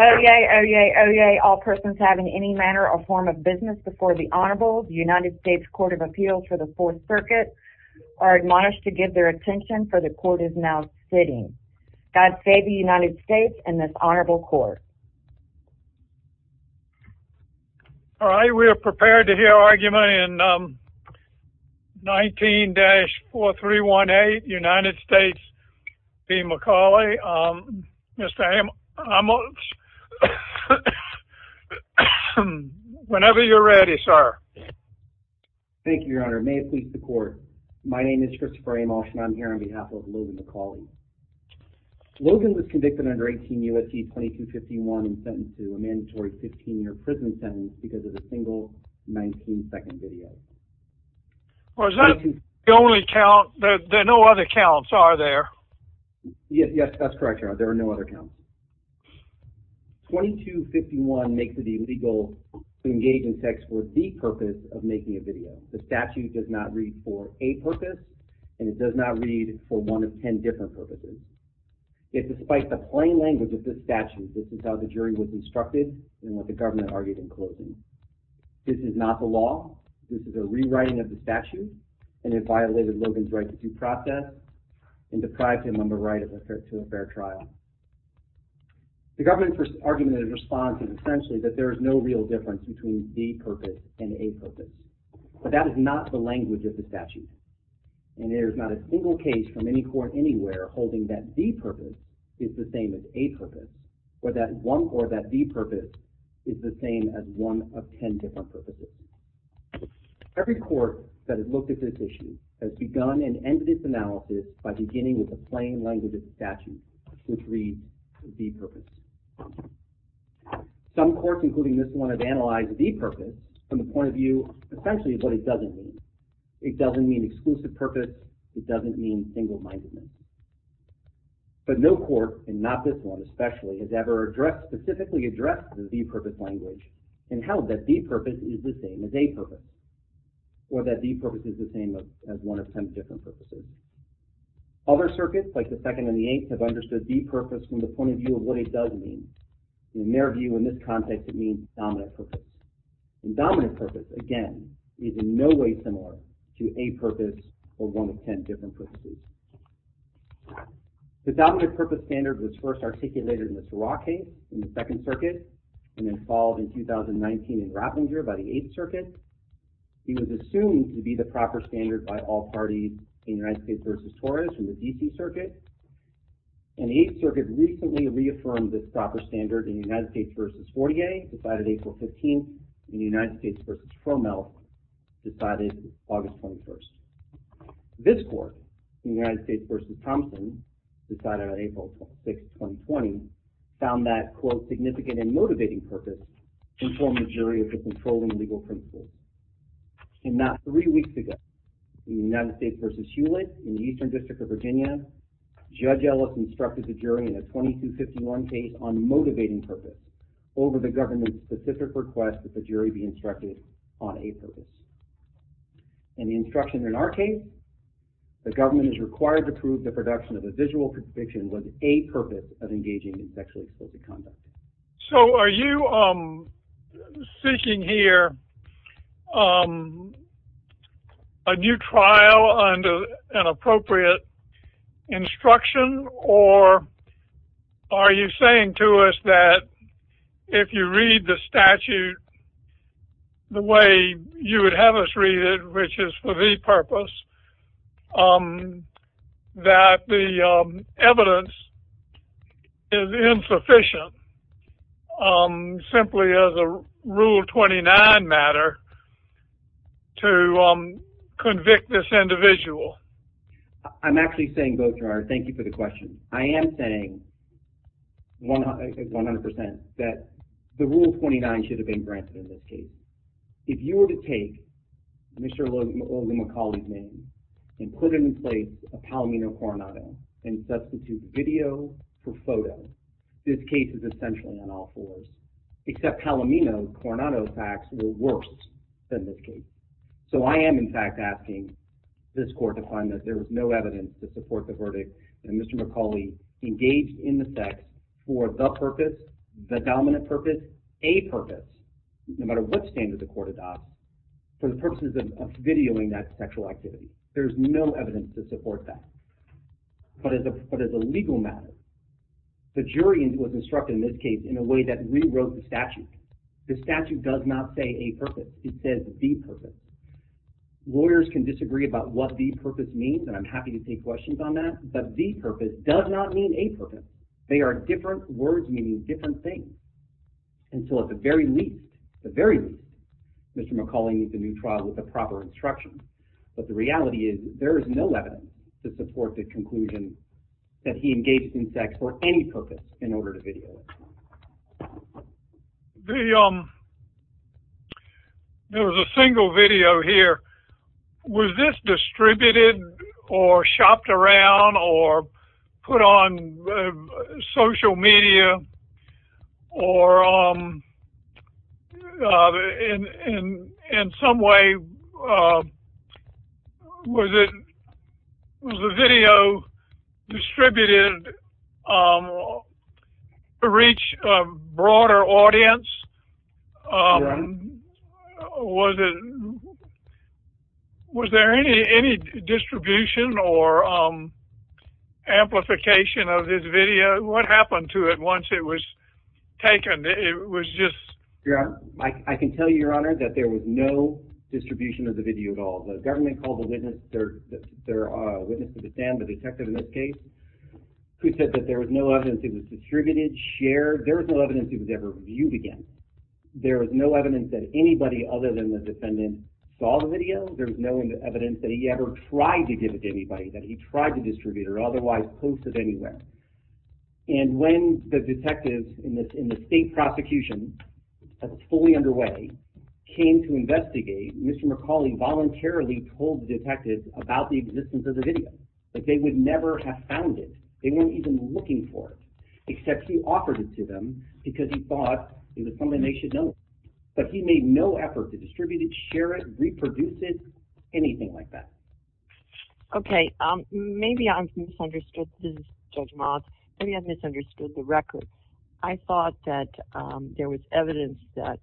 Oyez! Oyez! Oyez! All persons having any manner or form of business before the Honorable United States Court of Appeals for the Fourth Circuit are admonished to give their attention, for the Court is now sitting. God save the United States and this Honorable Court. All right, we are prepared to hear argument in 19-4318 United States v. McCauley. Mr. Amos, whenever you're ready, sir. Thank you, Your Honor. May it please the Court, my name is Christopher Amos and I'm here on behalf of Logan McCauley. Logan was convicted under 18 U.S.C. 2251 and sentenced to a mandatory 15-year prison sentence because of a single 19-second video. Well, is that the only count? There are no other counts, are there? Yes, that's correct, Your Honor, there are no other counts. 2251 makes it illegal to engage in sex for the purpose of making a video. The statute does not read for a purpose and it does not read for one of ten different purposes. Yet despite the plain language of the statute, this is how the jury was instructed and what the government argued in closing. This is not the law. This is a rewriting of the statute and it violated Logan's right to due process and deprived him of the right to a fair trial. The government's argument in response is essentially that there is no real difference between the purpose and a purpose. But that is not the language of the statute. And there is not a single case from any court anywhere holding that the purpose is the same as a purpose or that the purpose is the same as one of ten different purposes. Every court that has looked at this issue has begun and ended its analysis by beginning with the plain language of the statute, which reads the purpose. Some courts, including this one, have analyzed the purpose from the point of view essentially of what it doesn't mean. It doesn't mean exclusive purpose. It doesn't mean single-mindedness. But no court, and not this one especially, has ever specifically addressed the de-purpose language and held that de-purpose is the same as a purpose or that de-purpose is the same as one of ten different purposes. Other circuits, like the Second and the Eighth, have understood de-purpose from the point of view of what it does mean. In their view, in this context, it means dominant purpose. And dominant purpose, again, is in no way similar to a purpose or one of ten different purposes. The dominant purpose standard was first articulated in the Ferrar case in the Second Circuit and then followed in 2019 in Rappenger by the Eighth Circuit. It was assumed to be the proper standard by all parties in the United States v. Torres in the D.C. Circuit. And the Eighth Circuit recently reaffirmed this proper standard in the United States v. Fortier, decided April 15th, and the United States v. Tromel, decided August 21st. This court, the United States v. Thompson, decided on April 6th, 2020, found that, quote, significant and motivating purpose informed the jury of its controlling legal principles. And not three weeks ago, in the United States v. Hewlett in the Eastern District of Virginia, Judge Ellis instructed the jury in a 2251 case on motivating purpose over the government's specific request that the jury be instructed on a purpose. And the instruction in our case, the government is required to prove the production of a visual conviction was a purpose of engaging in sexually explicit conduct. So are you seeking here a new trial under an appropriate instruction, or are you saying to us that if you read the statute the way you would have us read it, which is for the purpose, that the evidence is insufficient simply as a Rule 29 matter to convict this individual? I'm actually saying both, Gerard. Thank you for the question. I am saying 100% that the Rule 29 should have been granted in this case. If you were to take Mr. O'Leary McCauley's name and put him in place of Palomino Coronado and substitute video for photo, this case is essentially on all fours, except Palomino's Coronado facts will work in this case. So I am, in fact, asking this court to find that there is no evidence to support the verdict that Mr. McCauley engaged in the sex for the purpose, the dominant purpose, a purpose, no matter what standard the court adopted, for the purposes of videoing that sexual activity. There is no evidence to support that. But as a legal matter, the jury was instructed in this case in a way that rewrote the statute. The statute does not say a purpose. It says the purpose. Lawyers can disagree about what the purpose means, and I'm happy to take questions on that, but the purpose does not mean a purpose. They are different words meaning different things. And so at the very least, Mr. McCauley needs a new trial with the proper instructions. But the reality is there is no evidence to support the conclusion that he engaged in sex for any purpose in order to video it. Thank you. To reach a broader audience, was there any distribution or amplification of this video? What happened to it once it was taken? It was just... Your Honor, I can tell you, Your Honor, that there was no distribution of the video at all. The government called a witness to the stand, the detective in this case, who said that there was no evidence it was distributed, shared. There was no evidence it was ever viewed again. There was no evidence that anybody other than the defendant saw the video. There was no evidence that he ever tried to give it to anybody, that he tried to distribute or otherwise post it anywhere. And when the detective in the state prosecution that was fully underway came to investigate, Mr. McCauley voluntarily told the detective about the existence of the video, that they would never have found it. They weren't even looking for it, except he offered it to them because he thought it was something they should know. But he made no effort to distribute it, share it, reproduce it, anything like that. Okay, maybe I've misunderstood, Judge Miles, maybe I've misunderstood the record. I thought that there was evidence that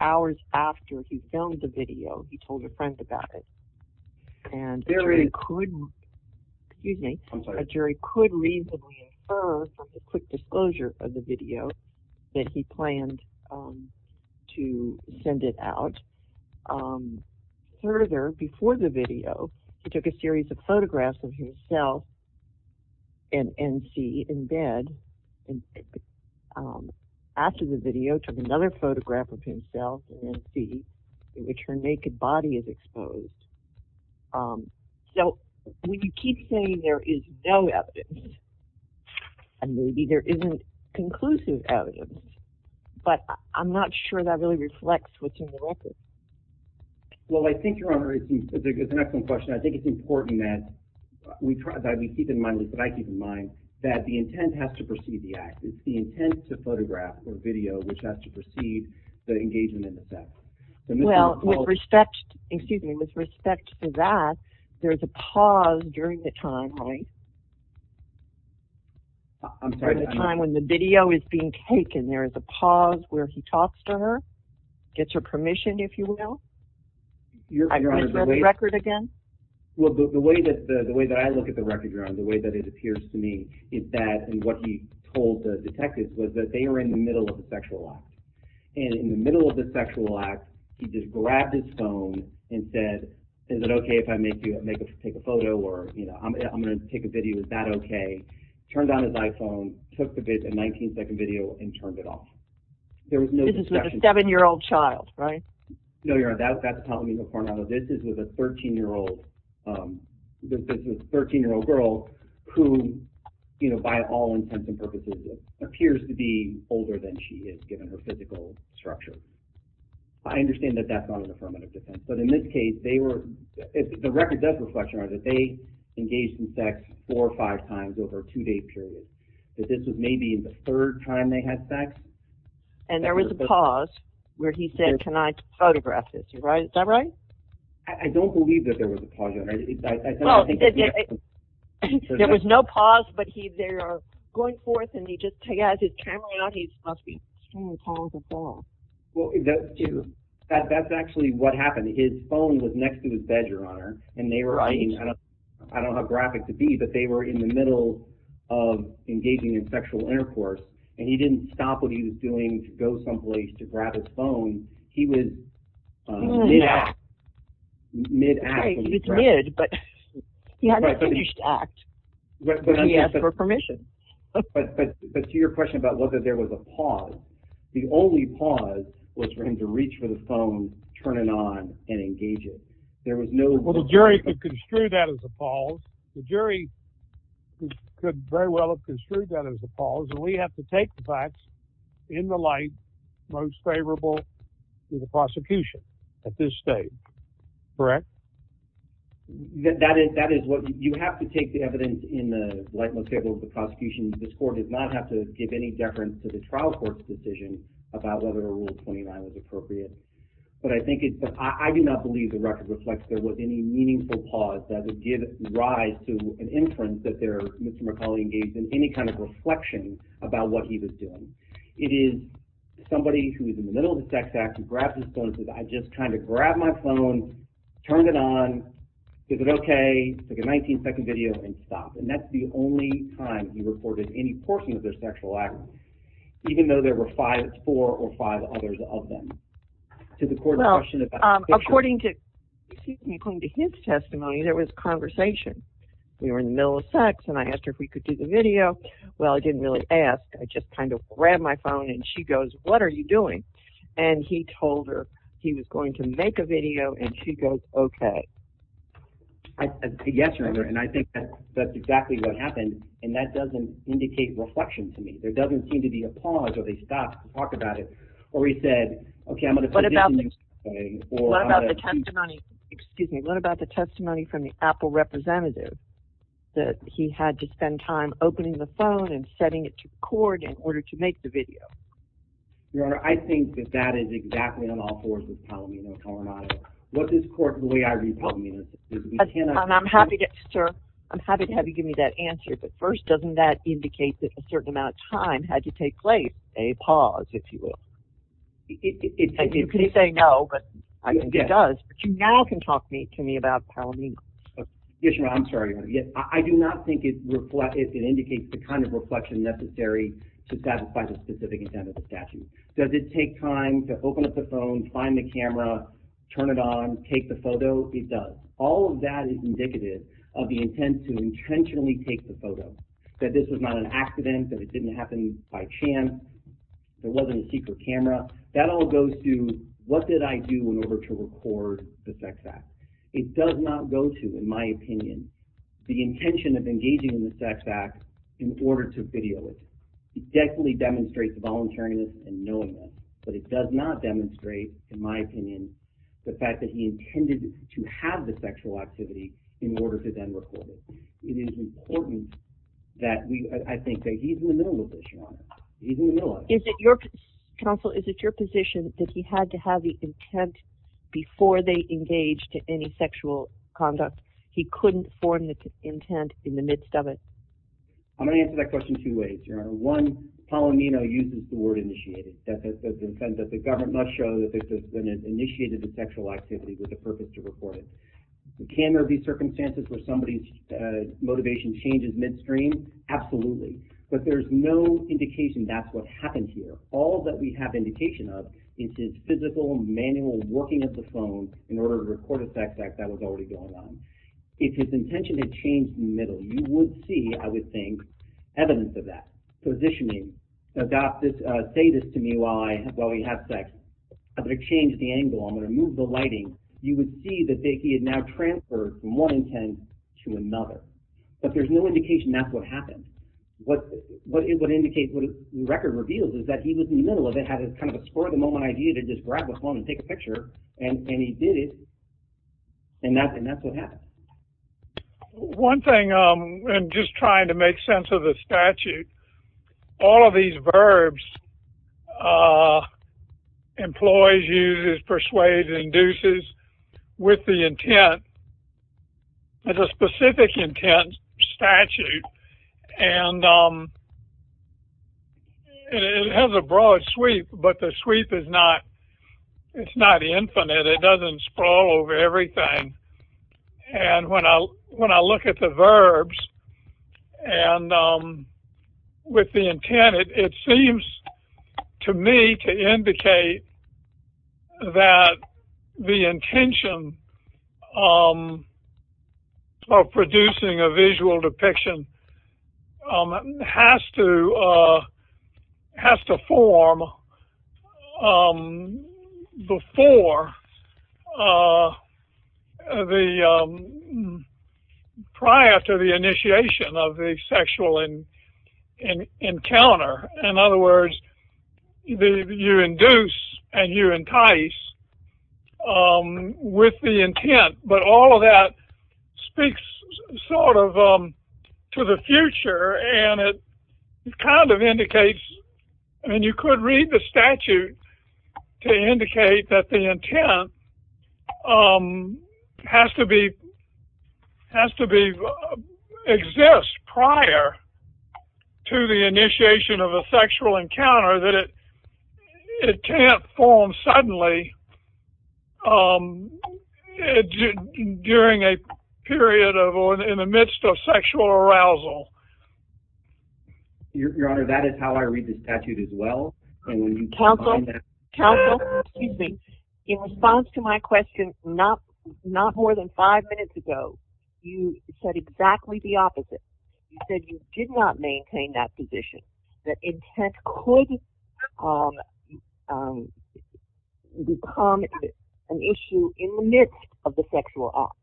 hours after he filmed the video, he told his friends about it. A jury could reasonably infer from the quick disclosure of the video that he planned to send it out. Further, before the video, he took a series of photographs of himself and NC in bed. After the video, he took another photograph of himself and NC, in which her naked body is exposed. So, when you keep saying there is no evidence, maybe there isn't conclusive evidence, but I'm not sure that really reflects what's in the record. Well, I think, Your Honor, it's an excellent question. I think it's important that we keep in mind, that the intent has to precede the act. It's the intent to photograph or video which has to precede the engagement of the fact. Well, with respect to that, there's a pause during the time, right? During the time when the video is being taken, there's a pause where he talks to her, gets her permission, if you will. I can look at the record again? Well, the way that I look at the record, Your Honor, the way that it appears to me, is that what he told the detectives was that they were in the middle of the sexual act. And in the middle of the sexual act, he just grabbed his phone and said, is it okay if I take a photo or I'm going to take a video, is that okay? Turned on his iPhone, took the 19-second video, and turned it off. This is with a 7-year-old child, right? No, Your Honor, that's probably in the criminal. This is with a 13-year-old girl who, by all intents and purposes, appears to be older than she is, given her physical structure. I understand that that's not in the criminal defense. But in this case, the record does reflect, Your Honor, that they engaged in sex four or five times over a two-day period. That this was maybe the third time they had sex. And there was a pause where he said, can I photograph this, is that right? I don't believe that there was a pause, Your Honor. There was no pause, but they are going forth and he just has his camera on, he must be trying to pause the phone. Well, that's actually what happened. His phone was next to his bed, Your Honor. And they were, I don't have a graphic to see, but they were in the middle of engaging in sexual intercourse. And he didn't stop what he was doing to go someplace to grab his phone. He was mid-act. Mid-act. He was mid, but he hadn't finished act. But then he asked for permission. But to your question about whether there was a pause, the only pause was for him to reach for the phone, turn it on, and engage it. There was no pause. Well, the jury could construe that as a pause. The jury could very well have construed that as a pause. And we have to take the facts in the light most favorable to the prosecution at this stage, correct? That is what, you have to take the evidence in the light most favorable to the prosecution. This court does not have to give any deference to the trial court's decision about whether Rule 29 is appropriate. But I think it's, I do not believe the record reflects there was any meaningful pause. That it did rise to an inference that there, Mr. McCauley engaged in any kind of reflection about what he was doing. It is somebody who is in the middle of the sex act who grabs his phone and says, I just kind of grabbed my phone, turned it on, is it okay, like a 19-second video, and stopped. And that's the only time he reported any portion of their sexual activity. Even though there were five, four or five others of them. According to his testimony, there was conversation. We were in the middle of sex and I asked her if we could do the video. Well, I didn't really ask. I just kind of grabbed my phone and she goes, what are you doing? And he told her he was going to make a video and she goes, okay. I said, yes, and I think that's exactly what happened. And that doesn't indicate reflection to me. There doesn't seem to be a pause or a stop to talk about it. What about the testimony, excuse me, what about the testimony from the Apple representative that he had to spend time opening the phone and setting it to cord in order to make the video? Your Honor, I think that that is exactly on all fours as Palomino told me. What is cord the way I read Palomino? I'm happy to have you give me that answer. But first, doesn't that indicate that a certain amount of time had to take place? A pause, if you will. You can say no, but I think it does. But you now can talk to me about Palomino. Yes, Your Honor, I'm sorry. I do not think it indicates the kind of reflection necessary to satisfy the specific intent of the statute. Does it take time to open up the phone, find the camera, turn it on, take the photo? It does. All of that is indicative of the intent to intentionally take the photo, that this was not an accident, that it didn't happen by chance, there wasn't a secret camera. That all goes to what did I do in order to record the sex act? It does not go to, in my opinion, the intention of engaging in the sex act in order to video it. It definitely demonstrates voluntariness and knowingness, but it does not demonstrate, in my opinion, the fact that he intended to have the sexual activity in order to then record it. It is important that we, I think that he's in the middle of this, Your Honor. He's in the middle of it. Counsel, is it your position that he had to have the intent before they engaged in any sexual conduct? He couldn't form the intent in the midst of it? I'm going to answer that question two ways, Your Honor. One, Palomino uses the word initiated. That the government must show that they initiated the sexual activity with the purpose to record it. Can there be circumstances where somebody's motivation changes midstream? Absolutely. But there's no indication that's what happened here. All that we have indication of is his physical, manual working of the phone in order to record a sex act that was already going on. If his intention had changed in the middle, you would see, I would think, evidence of that. Positioning. Say this to me while we have sex. I'm going to change the angle. I'm going to move the lighting. You would see that he had now transferred from one intent to another. But there's no indication that's what happened. What it would indicate, what the record reveals is that he was in the middle of it, had this kind of spur-of-the-moment idea to just grab the phone and take a picture, and he did it, and that's what happened. One thing, and just trying to make sense of the statute, all of these verbs, employs, uses, persuades, induces, with the intent. There's a specific intent statute, and it has a broad sweep, but the sweep is not infinite. It doesn't sprawl over everything, and when I look at the verbs and with the intent, it seems to me to indicate that the intention of producing a visual depiction has to form before the, prior to the initiation of the sexual encounter. In other words, you induce and you entice with the intent, but all of that speaks sort of to the future, and it kind of indicates, and you could read the statute to indicate that the intent has to exist prior to the initiation of a sexual encounter, that it can't form suddenly during a period of, or in the midst of sexual arousal. Your Honor, that is how I read the statute as well. Counsel, in response to my question not more than five minutes ago, you said exactly the opposite. You said you did not maintain that position, that intent could become an issue in the midst of the sexual act.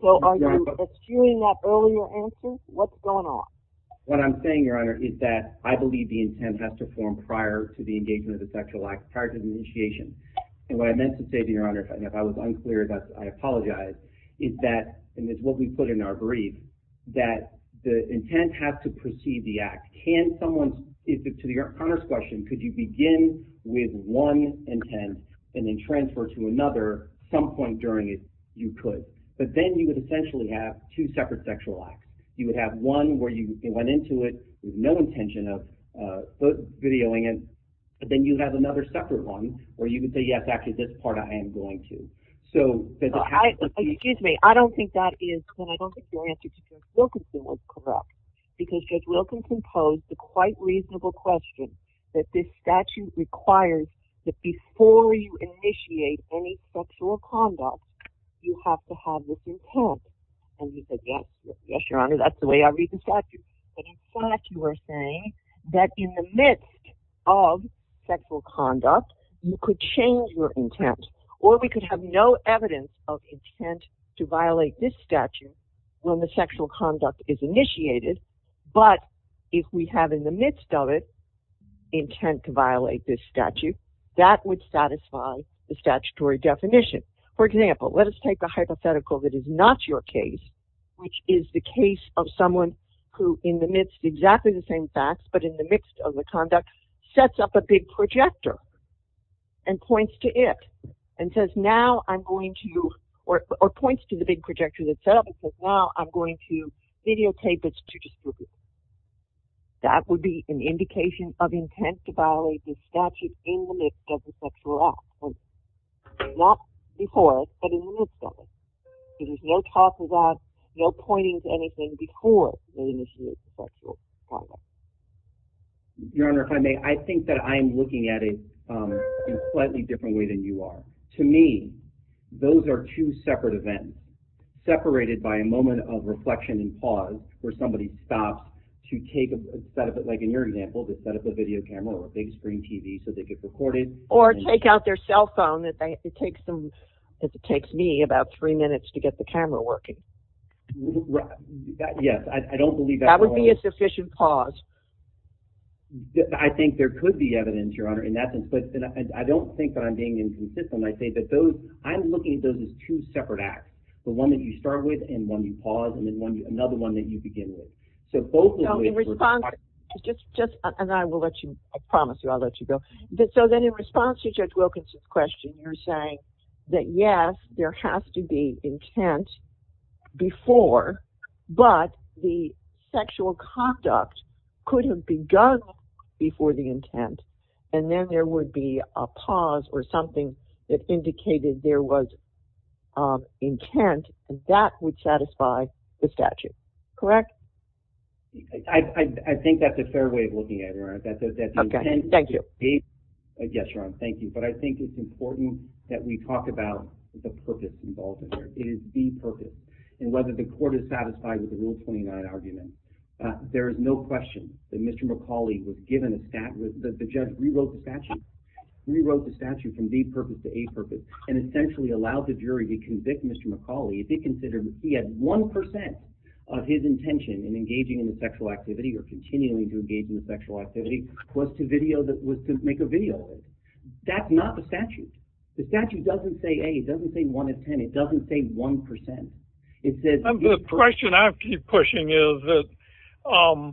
So are you eschewing that earlier answer? What's going on? What I'm saying, Your Honor, is that I believe the intent has to form prior to the engagement of the sexual act, prior to the initiation. And what I meant to say to Your Honor, if I was unclear, I apologize, is that, and it's what we put in our brief, that the intent has to precede the act. Can someone, to Your Honor's question, could you begin with one intent and then transfer to another at some point during it? You could. But then you would essentially have two separate sexual acts. You would have one where you went into it with no intention of videoing it, and then you have another separate one where you would say, yes, actually, this part I am going to. So does it have to be… Excuse me. I don't think that is, and I don't think your answer to Judge Wilkinson was correct. Because Judge Wilkinson posed a quite reasonable question, that this statute requires that before you initiate any sexual conduct, you have to have this intent. And we said, yes, Your Honor, that's the way I read the statute. But in fact, you are saying that in the midst of sexual conduct, you could change your intent. Or we could have no evidence of intent to violate this statute when the sexual conduct is initiated. But if we have in the midst of it intent to violate this statute, that would satisfy the statutory definition. For example, let us take a hypothetical that is not your case, which is the case of someone who in the midst of exactly the same facts, but in the midst of the conduct, sets up a big projector and points to it. And says, now I'm going to, or points to the big projector that's set up and says, now I'm going to videotape this to distribute. That would be an indication of intent to violate this statute in the midst of the sexual act. Not before, but in the midst of it. There is no talk of that, no pointing to anything before you initiate sexual conduct. Your Honor, if I may, I think that I am looking at it in a slightly different way than you are. To me, those are two separate events. Separated by a moment of reflection and pause where somebody stops to take a, like in your example, to set up a video camera or a big screen TV so they get recorded. Or take out their cell phone, it takes them, it takes me about three minutes to get the camera working. Yes, I don't believe that. That would be a sufficient pause. I think there could be evidence, Your Honor. And I don't think that I'm being inconsistent. I think that those, I'm looking at those as two separate acts. The one that you start with and one you pause and then another one that you begin with. So both of those ways are... Just, and I will let you, I promise you, I'll let you go. So then in response to Judge Wilkins' question, you're saying that yes, there has to be intent before. But the sexual conduct could have begun before the intent. And then there would be a pause or something that indicated there was intent and that would satisfy the statute. Correct? I think that's a fair way of looking at it, Your Honor. Okay, thank you. Yes, Your Honor, thank you. But I think it's important that we talk about the purpose involved in it. It is the purpose. And whether the court is satisfied with the Rule 29 argument, there is no question that Mr. McCauley was given a statute. The judge rewrote the statute. He rewrote the statute from D purpose to A purpose and essentially allowed the jury to convict Mr. McCauley if they considered that he had 1% of his intention in engaging in a sexual activity or continuing to engage in a sexual activity was to make a video of it. That's not the statute. The statute doesn't say A. It doesn't say 1 of 10. It doesn't say 1%. The question I keep pushing is that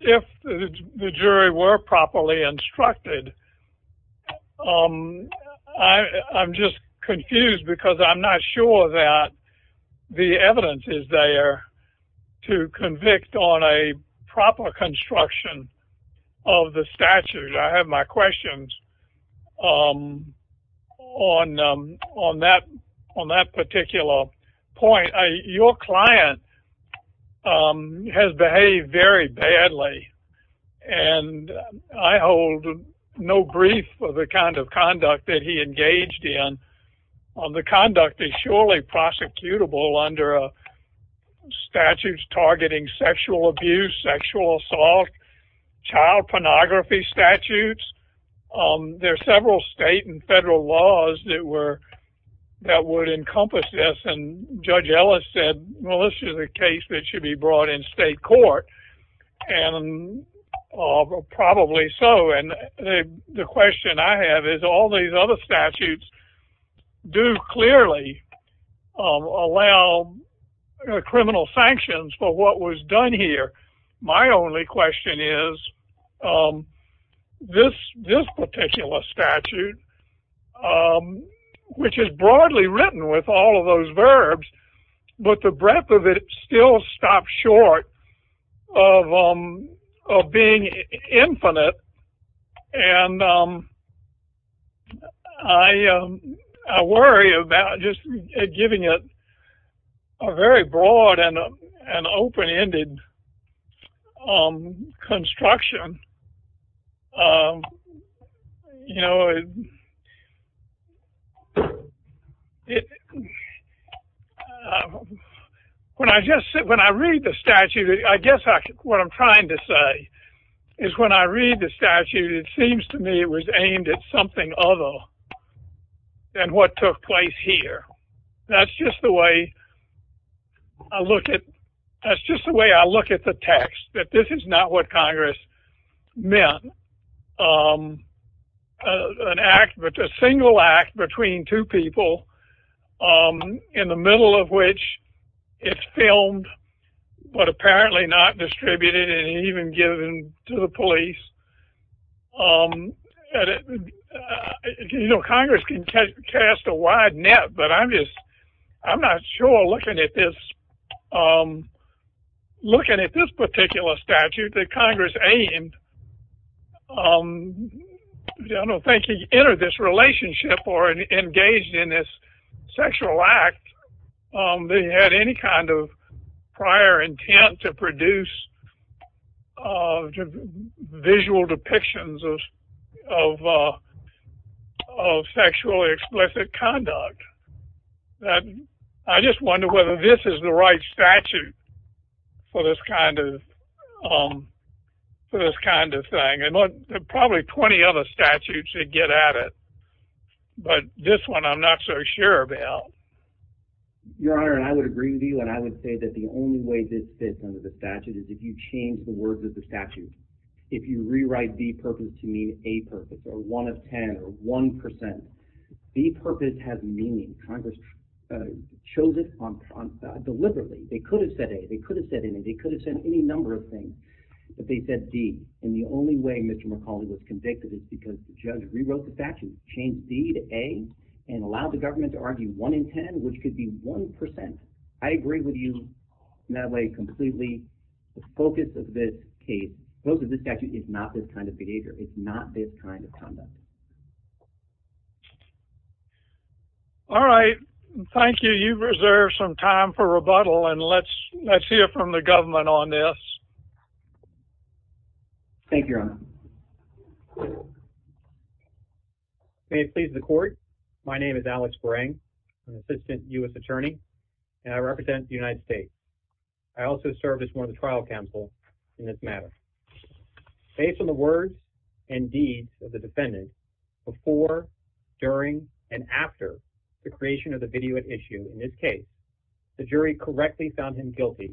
if the jury were properly instructed, I'm just confused because I'm not sure that the evidence is there to convict on a proper construction of the statute. I have my questions on that particular point. Your client has behaved very badly, and I hold no grief for the kind of conduct that he engaged in. The conduct is surely prosecutable under statutes targeting sexual abuse, sexual assault, child pornography statutes. There are several state and federal laws that would encompass this, and Judge Ellis said, well, this is a case that should be brought in state court, and probably so. The question I have is all these other statutes do clearly allow criminal sanctions for what was done here. My only question is this particular statute, which is broadly written with all of those verbs, but the breadth of it still stops short of being infinite, and I worry about just giving it a very broad and open-ended construction. You know, when I read the statute, I guess what I'm trying to say is when I read the statute, it seems to me it was aimed at something other than what took place here. That's just the way I look at the text, that this is not what Congress meant, an act, a single act between two people in the middle of which it's filmed but apparently not distributed and even given to the police. You know, Congress can cast a wide net, but I'm not sure looking at this particular statute that Congress aimed, I don't think he entered this relationship or engaged in this sexual act that he had any kind of prior intent to produce visual depictions of sexually explicit conduct. I just wonder whether this is the right statute for this kind of thing. There are probably plenty of other statutes that get at it, but this one I'm not so sure about. Your Honor, I would agree with you, and I would say that the only way this fits under the statute is if you change the words of the statute. If you rewrite the purpose to mean a purpose or one of ten or one percent, the purpose has meaning. Congress chose this deliberately. They could have said a, they could have said any, they could have said any number of things, but they said d, and the only way Mr. McCauley was convicted is because the judge rewrote the statute, changed d to a, and allowed the government to argue one in ten, which could be one percent. I agree with you in that way completely. The focus of this case, the focus of this statute is not this kind of behavior. It's not this kind of conduct. All right, thank you. Do you reserve some time for rebuttal, and let's hear from the government on this. Thank you, Your Honor. May it please the Court, my name is Alex Bereng, an assistant U.S. attorney, and I represent the United States. I also serve as one of the trial counsel in this matter. Based on the words and deeds of the defendant before, during, and after the creation of the video at issue in this case, the jury correctly found him guilty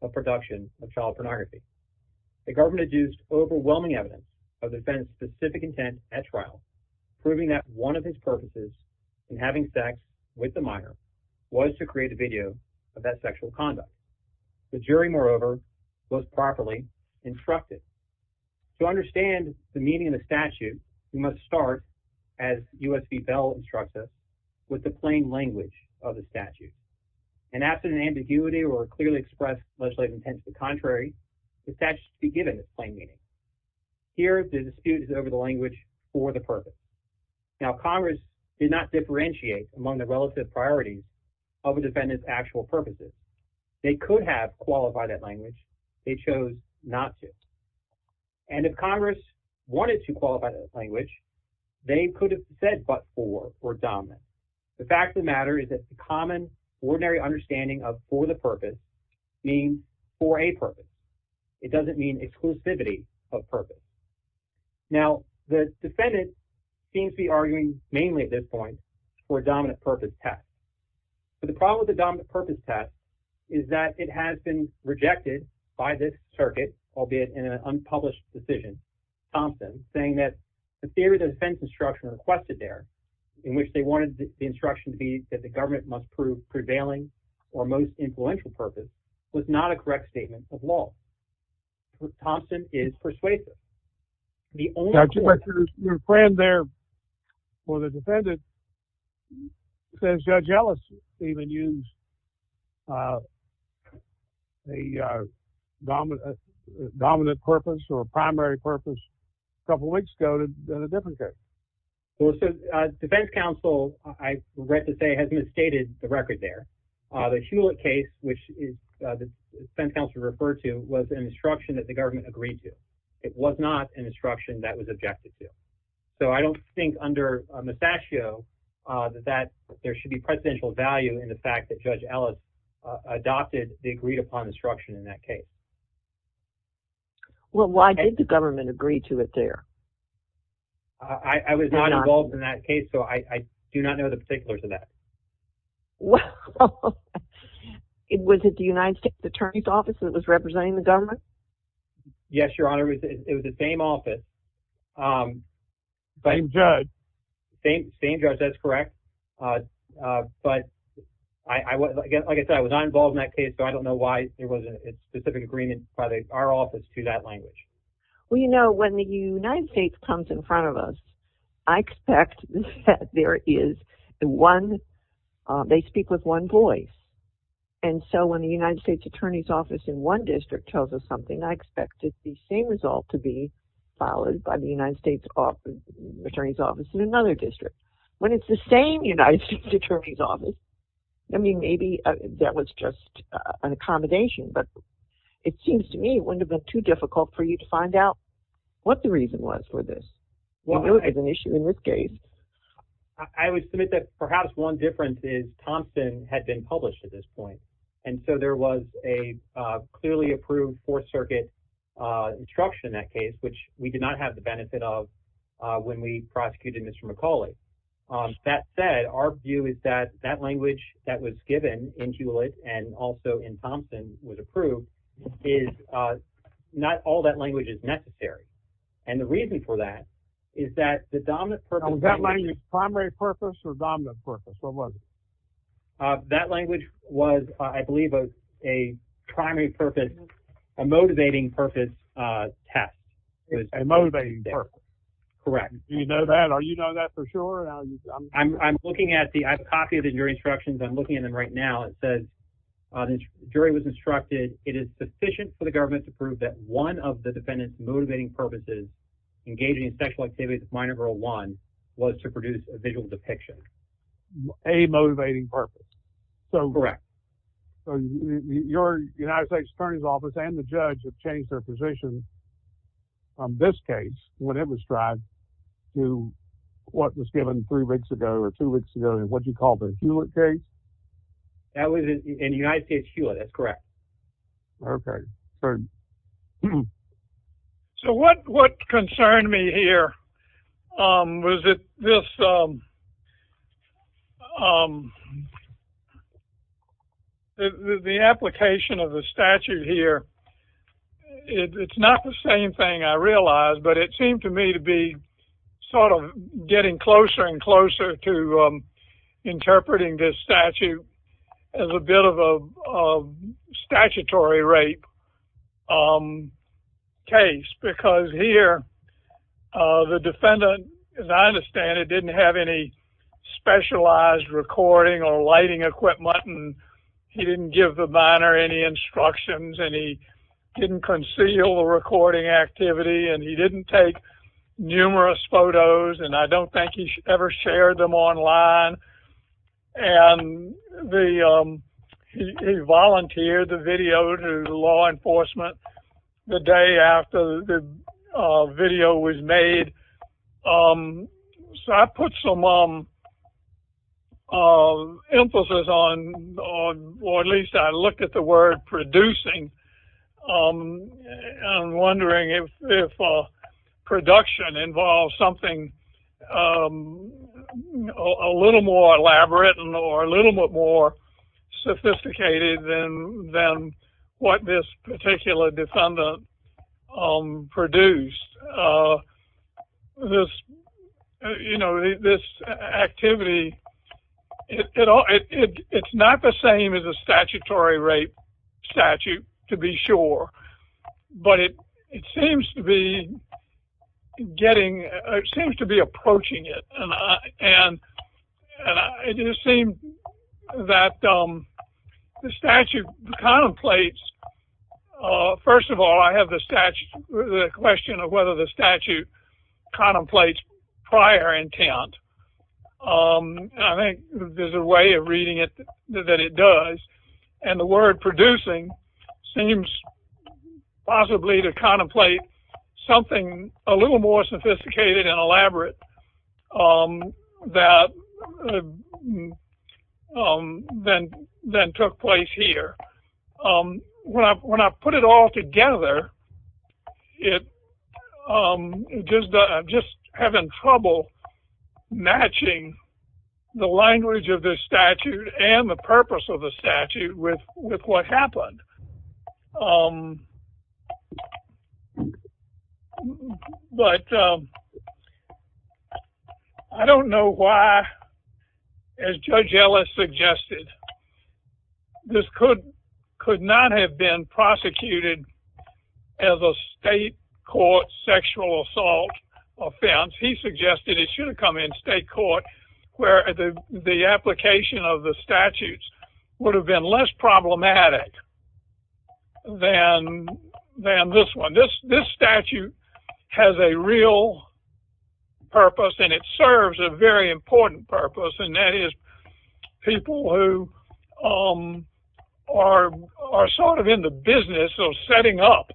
of production of child pornography. The government has used overwhelming evidence of the defendant's specific intent at trial, proving that one of his purposes in having sex with the minor was to create a video of that sexual conduct. The jury, moreover, was properly instructed. To understand the meaning of the statute, we must start, as U.S.B. Bell instructed, with the plain language of the statute. And after an ambiguity or clearly expressed legislative intent to the contrary, the statute should be given its plain meaning. Here, the dispute is over the language for the purpose. Now, Congress did not differentiate among the relative priorities of a defendant's actual purposes. They could have qualified that language. They chose not to. And if Congress wanted to qualify that language, they could have said but for, for dominant. The fact of the matter is that the common, ordinary understanding of for the purpose means for a purpose. It doesn't mean exclusivity of purpose. Now, the defendant seems to be arguing mainly at this point for a dominant purpose test. But the problem with the dominant purpose test is that it has been rejected by this circuit, albeit in an unpublished decision, Thompson, saying that the theory of defense instruction requested there, in which they wanted the instruction to be that the government must prove prevailing or most influential purpose, was not a correct statement of law. Thompson is persuasive. Your friend there for the defendant says you're jealous, even use the dominant, dominant purpose or primary purpose. A couple of weeks ago, the defense counsel, I read to say, has misstated the record there. The Hewlett case, which the defense counsel referred to, was an instruction that the government agreed to. It was not an instruction that was objected to. So I don't think under Massaccio that there should be presidential value in the fact that Judge Ellis adopted the agreed upon instruction in that case. Well, why did the government agree to it there? I was not involved in that case, so I do not know the particulars of that. Was it the United States Attorney's Office that was representing the government? Yes, Your Honor, it was the same office. Same judge. Same judge, that's correct. But, like I said, I was not involved in that case, so I don't know why there wasn't a specific agreement by our office to that language. Well, you know, when the United States comes in front of us, I expect that there is one, they speak with one voice. And so when the United States Attorney's Office in one district tells us something, I expect it's the same result to be followed by the United States Attorney's Office in another district. When it's the same United States Attorney's Office, I mean, maybe that was just an accommodation, but it seems to me it wouldn't have been too difficult for you to find out what the reason was for this. You know it was an issue in this case. I would submit that perhaps one difference is Thompson had been published at this point. And so there was a clearly approved Fourth Circuit instruction in that case, which we did not have the benefit of when we prosecuted Mr. McCauley. That said, our view is that that language that was given in Hewlett and also in Thompson was approved, is not all that language is necessary. And the reason for that is that the dominant purpose... Was that language primary purpose or dominant purpose? What was it? That language was, I believe, a primary purpose, a motivating purpose test. A motivating purpose. Correct. Do you know that? Are you know that for sure? I'm looking at the, I have a copy of the jury instructions. I'm looking at them right now. It says the jury was instructed, it is sufficient for the government to prove that one of the defendant's motivating purposes, engaging in sexual activities of minor girl one, was to produce a visual depiction. A motivating purpose. Correct. So your United States Attorney's Office and the judge have changed their position on this case when it was tried to what was given three weeks ago or two weeks ago in what you call the Hewlett case? That was in the United States Hewlett, that's correct. Perfect. So what concerned me here was that this... The application of the statute here, it's not the same thing I realized, but it seemed to me to be sort of getting closer and closer to interpreting this statute as a bit of a statutory rape case, because here the defendant, as I understand it, didn't have any specialized recording or lighting equipment, and he didn't give the minor any instructions, and he didn't conceal the recording activity, and he didn't take numerous photos, and I don't think he ever shared them online, and he volunteered the video to law enforcement the day after the video was made. So I put some emphasis on, or at least I looked at the word producing, and I'm wondering if production involves something a little more elaborate or a little bit more sophisticated than what this particular defendant produced. This activity, it's not the same as a statutory rape statute, to be sure, but it seems to be getting, it seems to be approaching it, and it just seems that the statute contemplates, first of all, I have the question of whether the statute contemplates prior intent, and I think there's a way of reading it that it does, and the word producing seems possibly to contemplate something a little more sophisticated and elaborate than took place here. When I put it all together, I'm just having trouble matching the language of the statute and the purpose of the statute with what happened. But I don't know why, as Judge Ellis suggested, this could not have been prosecuted as a state court sexual assault offense. He suggested it should have come in state court where the application of the statutes would have been less problematic than this one. This statute has a real purpose, and it serves a very important purpose, and that is people who are sort of in the business of setting up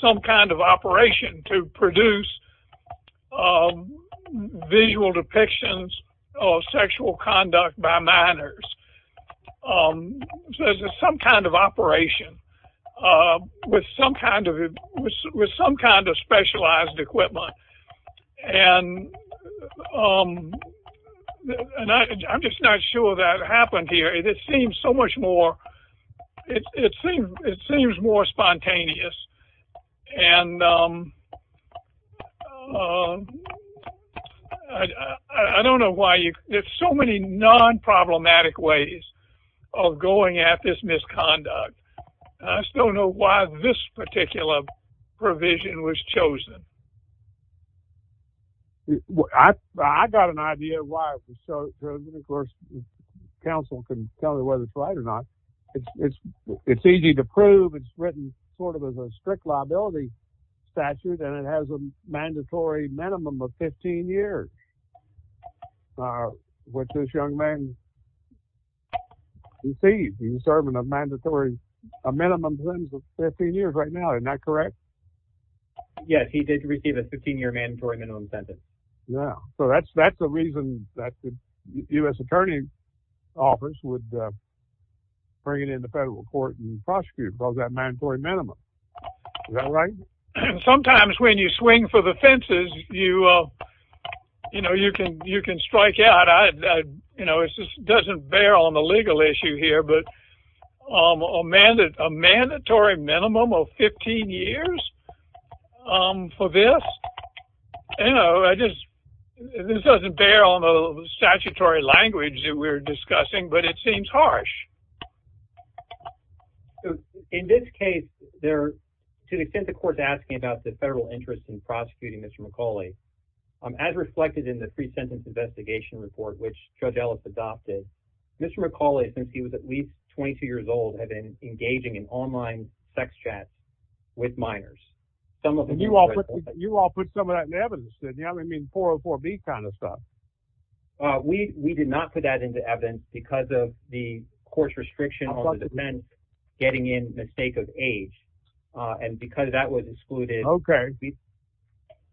some kind of operation to produce visual depictions of sexual conduct by minors, some kind of operation with some kind of specialized equipment, and I'm just not sure that happened here. It seems so much more spontaneous, and I don't know why. There's so many non-problematic ways of going at this misconduct, and I still don't know why this particular provision was chosen. I've got an idea why it was chosen. Of course, counsel can tell you whether it's right or not. It's easy to prove. It's written sort of as a strict liability statute, and it has a mandatory minimum of 15 years. Which this young man received. He's serving a mandatory minimum sentence of 15 years right now. Isn't that correct? Yes, he did receive a 15-year mandatory minimum sentence. Yeah, so that's the reason that the U.S. Attorney's Office would bring it in the federal court and prosecute, because of that mandatory minimum. Is that right? Sometimes when you swing for the fences, you can strike out. It just doesn't bear on the legal issue here, but a mandatory minimum of 15 years for this? This doesn't bear on the statutory language that we're discussing, but it seems harsh. In this case, to the extent the court's asking about the federal interest in prosecuting Mr. McCauley, as reflected in the pre-sentence investigation report, which Judge Ellis adopted, Mr. McCauley, since he was at least 22 years old, had been engaging in online sex chats with minors. You all put some of that in evidence, didn't you? I mean, 404B kind of stuff. We did not put that into evidence, because of the court's restriction on the defense getting in the sake of age, and because that was excluded. Okay.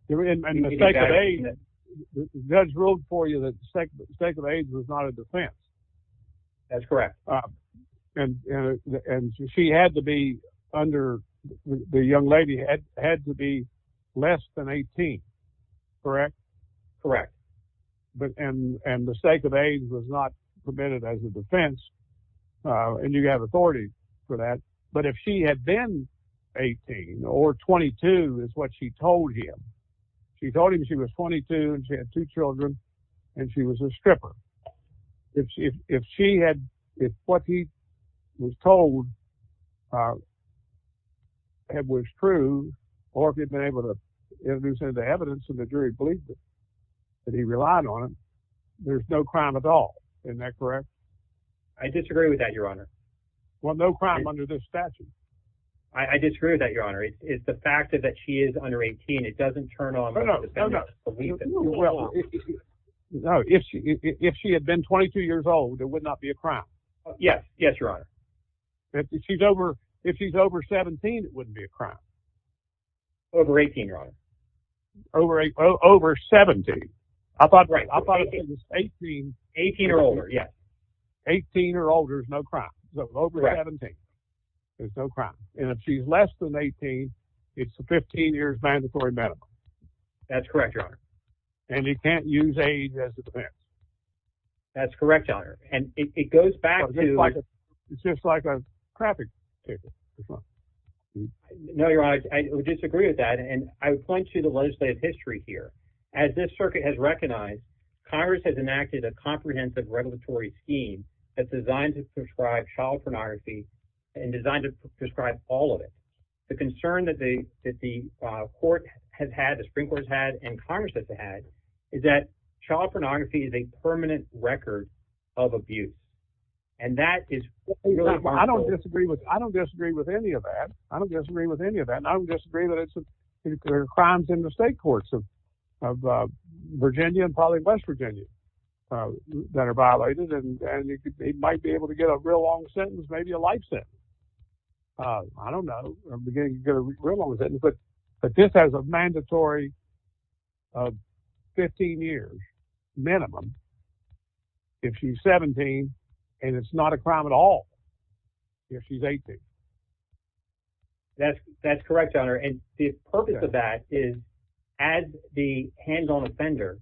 And the sake of age, Judge wrote for you that the sake of age was not a defense. That's correct. And the young lady had to be less than 18, correct? Correct. And the sake of age was not permitted as a defense, and you have authority for that. But if she had been 18 or 22, is what she told him, she told him she was 22 and she had two children, and she was a stripper. If she had... If what he was told was true, or if it was in the evidence and the jury believed it, and he relied on it, there's no crime at all. Isn't that correct? I disagree with that, Your Honor. Well, no crime under this statute. I disagree with that, Your Honor. It's the fact that she is under 18, it doesn't turn off... No, no, no. No, if she had been 22 years old, it would not be a crime. Yes. Yes, Your Honor. If she's over 17, it wouldn't be a crime. Over 18, Your Honor. Over 17. I thought... 18 or older, yes. 18 or older is no crime. Over 17 is no crime. And if she's less than 18, it's a 15-year mandatory medical. That's correct, Your Honor. And you can't use age as a defense. That's correct, Your Honor. And it goes back to... No, Your Honor, I disagree with that, and I would point you to legislative history here. As this circuit has recognized, Congress has enacted a comprehensive regulatory scheme that's designed to prescribe child pornography and designed to prescribe all of it. The concern that the Supreme Court has had and Congress has had is that child pornography is a permanent record of abuse, and that is... I don't disagree with any of that. I don't disagree with any of that, and I don't disagree that there are crimes in the state courts of Virginia and probably West Virginia that are violated, and it might be able to get a real long sentence, maybe a life sentence. I don't know. But this has a mandatory 15 years minimum if she's 17, and it's not a crime at all if she's 18. That's correct, Your Honor, and the purpose of that is as the hands-on offender,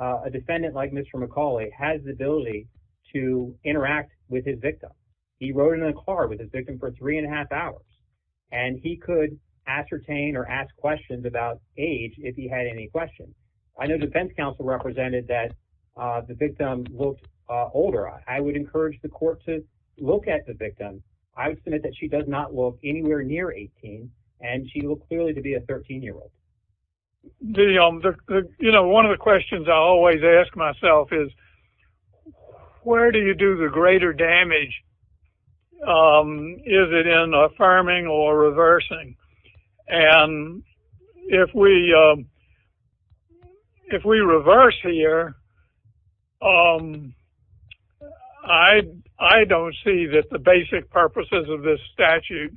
a defendant like Mr. McCauley has the ability to interact with his victim. He rode in a car with his victim for 3 1⁄2 hours, and he could ascertain or ask questions about age if he had any questions. I know defense counsel represented that the victim looked older. I would encourage the court to look at the victim. I would submit that she does not look anywhere near 18, and she looks clearly to be a 13-year-old. You know, one of the questions I always ask myself is, where do you do the greater damage? Is it in affirming or reversing? And if we reverse here, I don't see that the basic purposes of this statute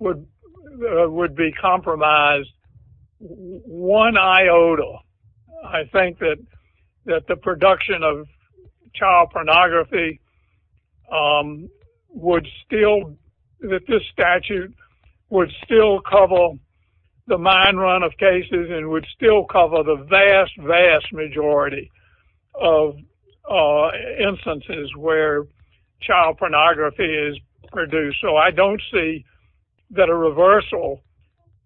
would be compromised one iota. I think that the production of child pornography would still, that this statute would still cover the mine run of cases and would still cover the vast, vast majority of instances where child pornography is produced. So I don't see that a reversal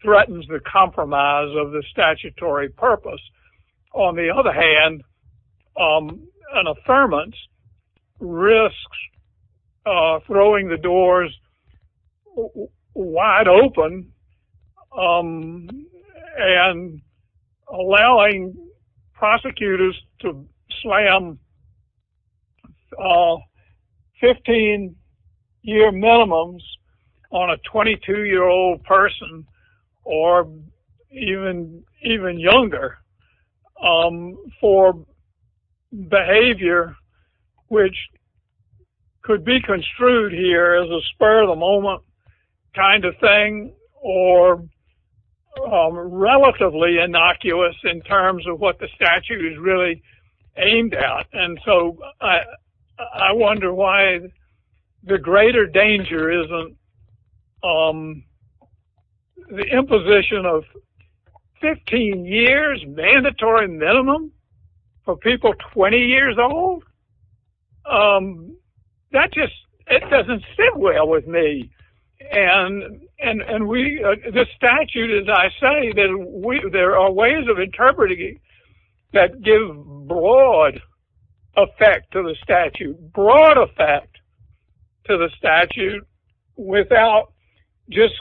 threatens the compromise of the statutory purpose. On the other hand, an affirmance risks throwing the doors wide open and allowing prosecutors to slam 15-year minimums on a 22-year-old person or even younger for behavior which could be construed here as a spur-of-the-moment kind of thing or relatively innocuous in terms of what the statute is really aimed at. And so I wonder why the greater danger isn't the imposition of 15 years mandatory minimum for people 20 years old. That just, it doesn't sit well with me. And we, this statute, as I say, there are ways of interpreting it that give broad effect to the statute, broad effect to the statute, without just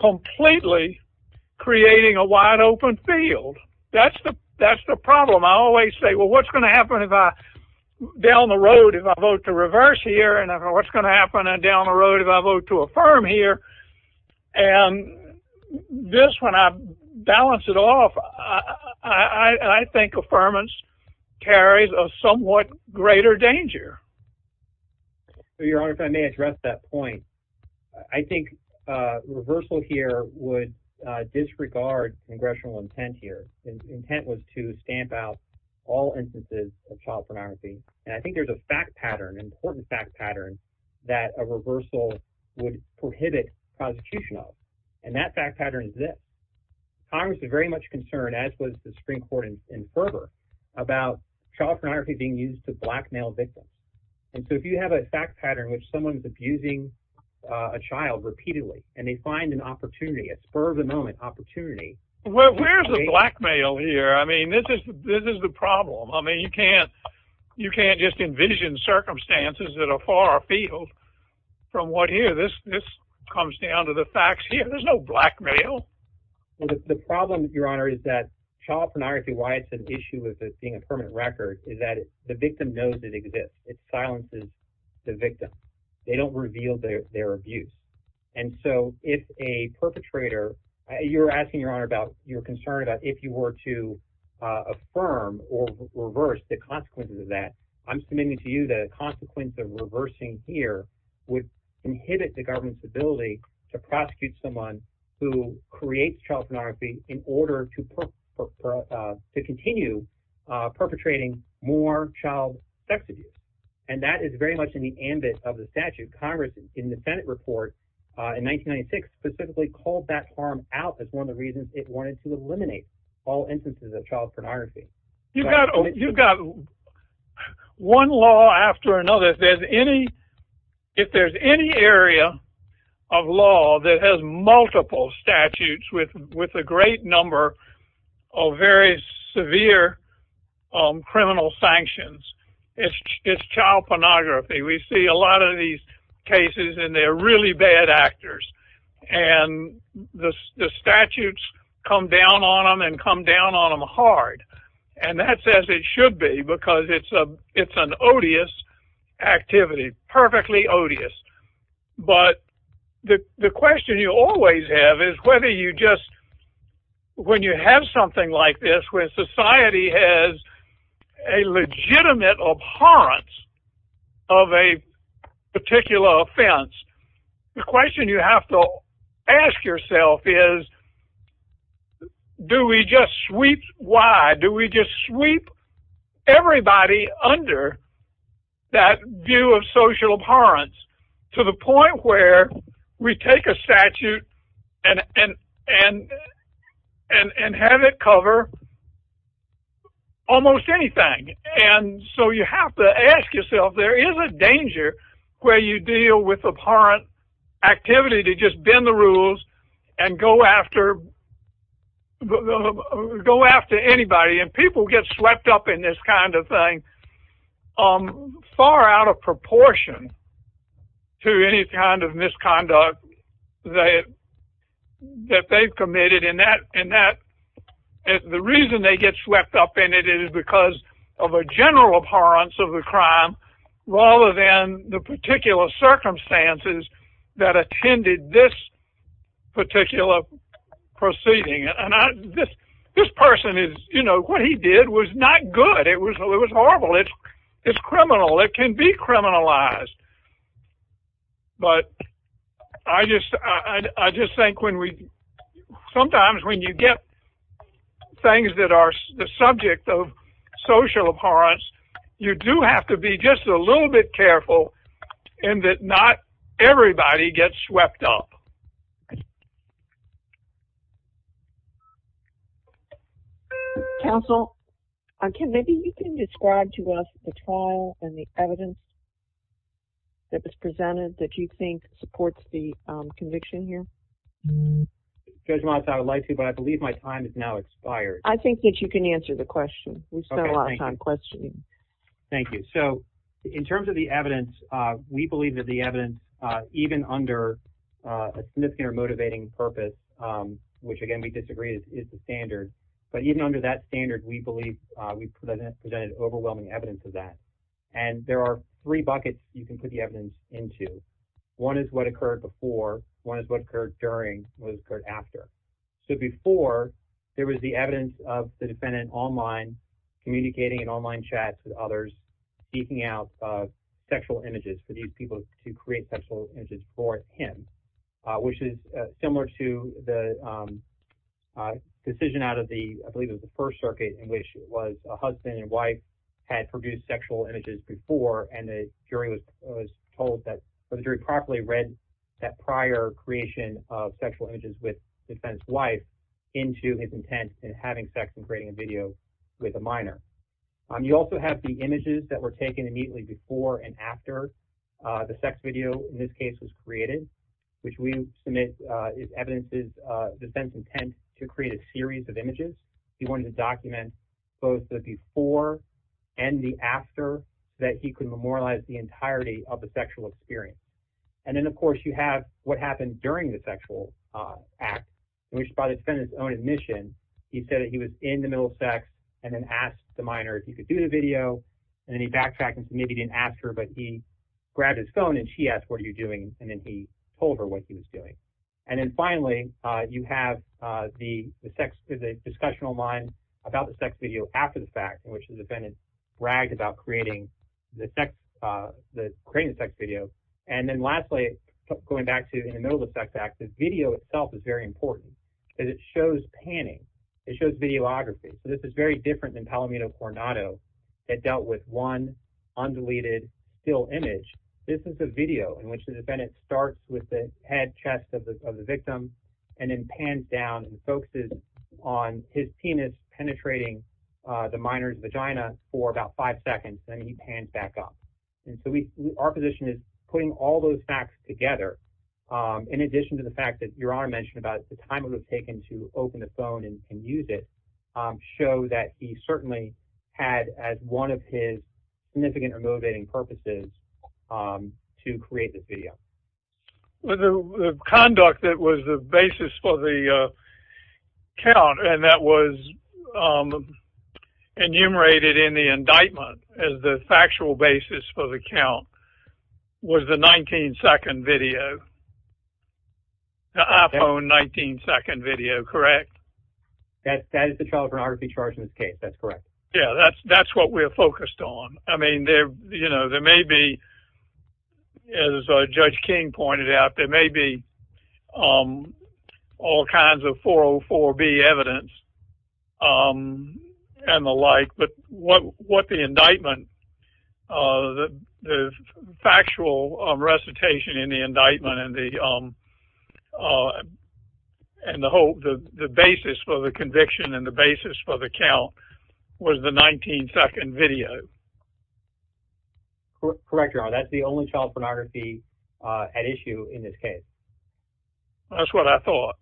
completely creating a wide-open field. That's the problem. I always say, well, what's going to happen if I, down the road, if I vote to reverse here, and what's going to happen down the road if I vote to affirm here? And this, when I balance it off, I think affirmance carries a somewhat greater danger. Your Honor, if I may address that point, I think reversal here would disregard congressional intent here. The intent was to stamp out all instances of child pornography. And I think there's a fact pattern, an important fact pattern, that a reversal would prohibit prosecution of. And that fact pattern is this. Congress is very much concerned, as was the Supreme Court in Ferber, about child pornography being used to blackmail victims. And so if you have a fact pattern in which someone's abusing a child repeatedly, and they find an opportunity, a spur-of-the-moment opportunity. Well, where's the blackmail here? I mean, this is the problem. I mean, you can't just envision circumstances that are far afield from what here. This comes down to the facts here. There's no blackmail. The problem, Your Honor, is that child pornography, why it's an issue of this being a permanent record, is that the victim knows it exists. It silences the victim. They don't reveal their abuse. And so if a perpetrator... You're asking, Your Honor, about... You're concerned about if you were to affirm or reverse the consequences of that, I'm submitting to you that a consequence of reversing here would inhibit the government's ability to prosecute someone who creates child pornography in order to continue perpetrating more child sex abuse. And that is very much in the ambit of the statute. Congress, in the Senate report in 1996, specifically called that harm out as one of the reasons it wanted to eliminate all instances of child pornography. You've got one law after another. If there's any area of law that has multiple statutes with a great number of very severe criminal sanctions, it's child pornography. We see a lot of these cases, and they're really bad actors. And the statutes come down on them and come down on them hard. And that's as it should be because it's an odious activity, perfectly odious. But the question you always have is whether you just... When you have something like this, where society has a legitimate abhorrence of a particular offense, the question you have to ask yourself is, do we just sweep why? Do we just sweep everybody under that view of social abhorrence to the point where we take a statute and have it cover almost anything? And so you have to ask yourself, there is a danger where you deal with abhorrent activity to just bend the rules and go after anybody. And people get swept up in this kind of thing far out of proportion to any kind of misconduct that they've committed. And the reason they get swept up in it is because of a general abhorrence of the crime rather than the particular circumstances that attended this particular proceeding. And this person is... What he did was not good. It was horrible. It's criminal. It can be criminalized. But I just think when we... things that are the subject of social abhorrence, you do have to be just a little bit careful in that not everybody gets swept up. Counsel, maybe you can describe to us the trial and the evidence that was presented that you think supports the conviction here. Judge Miles, I would like to, but I believe my time has now expired. I think that you can answer the question. We spend a lot of time questioning. Thank you. So in terms of the evidence, we believe that the evidence, even under a significant or motivating purpose, which, again, we disagree is the standard. But even under that standard, we believe we presented overwhelming evidence of that. And there are three buckets you can put the evidence into. One is what occurred before. One is what occurred during. One is what occurred after. So before, there was the evidence of the defendant online, communicating in online chats with others, speaking out sexual images to these people to create sexual images for him, which is similar to the decision out of the, I believe it was the First Circuit, in which it was a husband and wife had produced sexual images before, and the jury was told that the jury properly read that prior creation of sexual images with the defendant's wife into his intent in having sex and creating a video with a minor. You also have the images that were taken immediately before and after the sex video, in this case, was created, which we submit is evidence of the defendant's intent to create a series of images. He wanted to document both the before and the after that he could memorialize the entirety of the sexual experience. And then, of course, you have what happened during the sexual act, which by the defendant's own admission, he said that he was in the middle of sex and then asked the minor if he could do the video, and then he backtracked and maybe didn't ask her, but he grabbed his phone and she asked, what are you doing? And then he told her what he was doing. And then finally, you have the discussional line about the sex video after the fact, in which the defendant bragged about creating the sex video and then lastly, going back to the middle of the sex act, the video itself is very important because it shows panning, it shows videography. So this is very different than Palomino Coronado. It dealt with one undeleted still image. This is a video in which the defendant starts with the head chest of the victim and then pans down and focuses on his penis penetrating the minor's vagina for about five seconds and then he pans back up. And so our position is putting all those facts together in addition to the fact that Your Honor mentioned about the time it would have taken to open the phone and use it, show that he certainly had as one of his significant or motivating purposes to create this video. The conduct that was the basis for the count and that was enumerated in the indictment as the factual basis for the count was the 19-second video, the iPhone 19-second video, correct? That is the child pornography charges case. That's correct. Yeah, that's what we're focused on. I mean, there may be, as Judge King pointed out, there may be all kinds of 404B evidence and the like, but what the indictment, the factual recitation in the indictment and the basis for the conviction and the basis for the count was the 19-second video. Correct, Your Honor. That's the only child pornography at issue in this case. That's what I thought.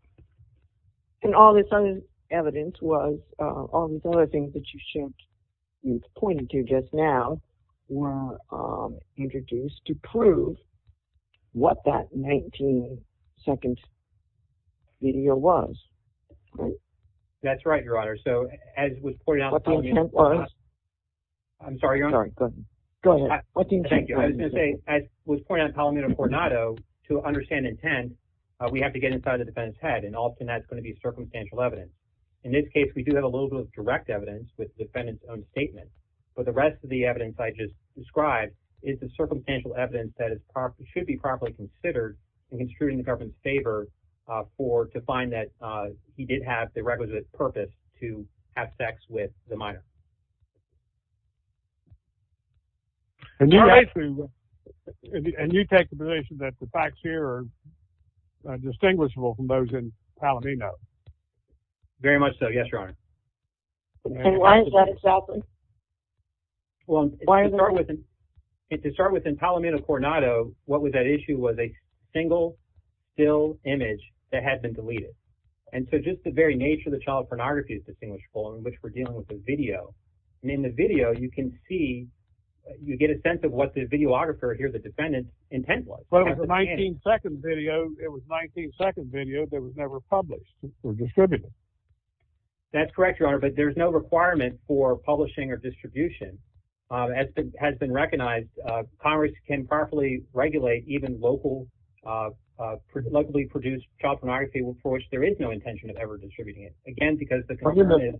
And all this other evidence was, all these other things that you pointed to just now were introduced to prove what that 19-second video was. That's right, Your Honor. So as was pointed out... What the intent was? I'm sorry, Your Honor. Sorry, go ahead. Thank you. I was going to say, as was pointed out in Palomino-Cornado, to understand intent, we have to get inside the defendant's head and often that's going to be circumstantial evidence. In this case, we do have a little bit of direct evidence with the defendant's own statement, but the rest of the evidence I just described is the circumstantial evidence that should be properly considered in construing the government's favor to find that he did have the requisite purpose to have sex with the minor. And you take the position that the facts here are distinguishable from those in Palomino. Very much so, yes, Your Honor. And why is that a challenge? Well, to start with, in Palomino-Cornado, what was at issue was a single still image that had been deleted. And so just the very nature of the child pornography is distinguishable in which we're dealing with a video. And in the video, you can see, you get a sense of what the videographer here, the defendant's intent was. But it was a 19-second video. It was a 19-second video that was never published or distributed. That's correct, Your Honor, but there's no requirement for publishing or distribution. As has been recognized, Congress can properly regulate even locally produced child pornography, for which there is no intention of ever distributing it. Again, because the concern is...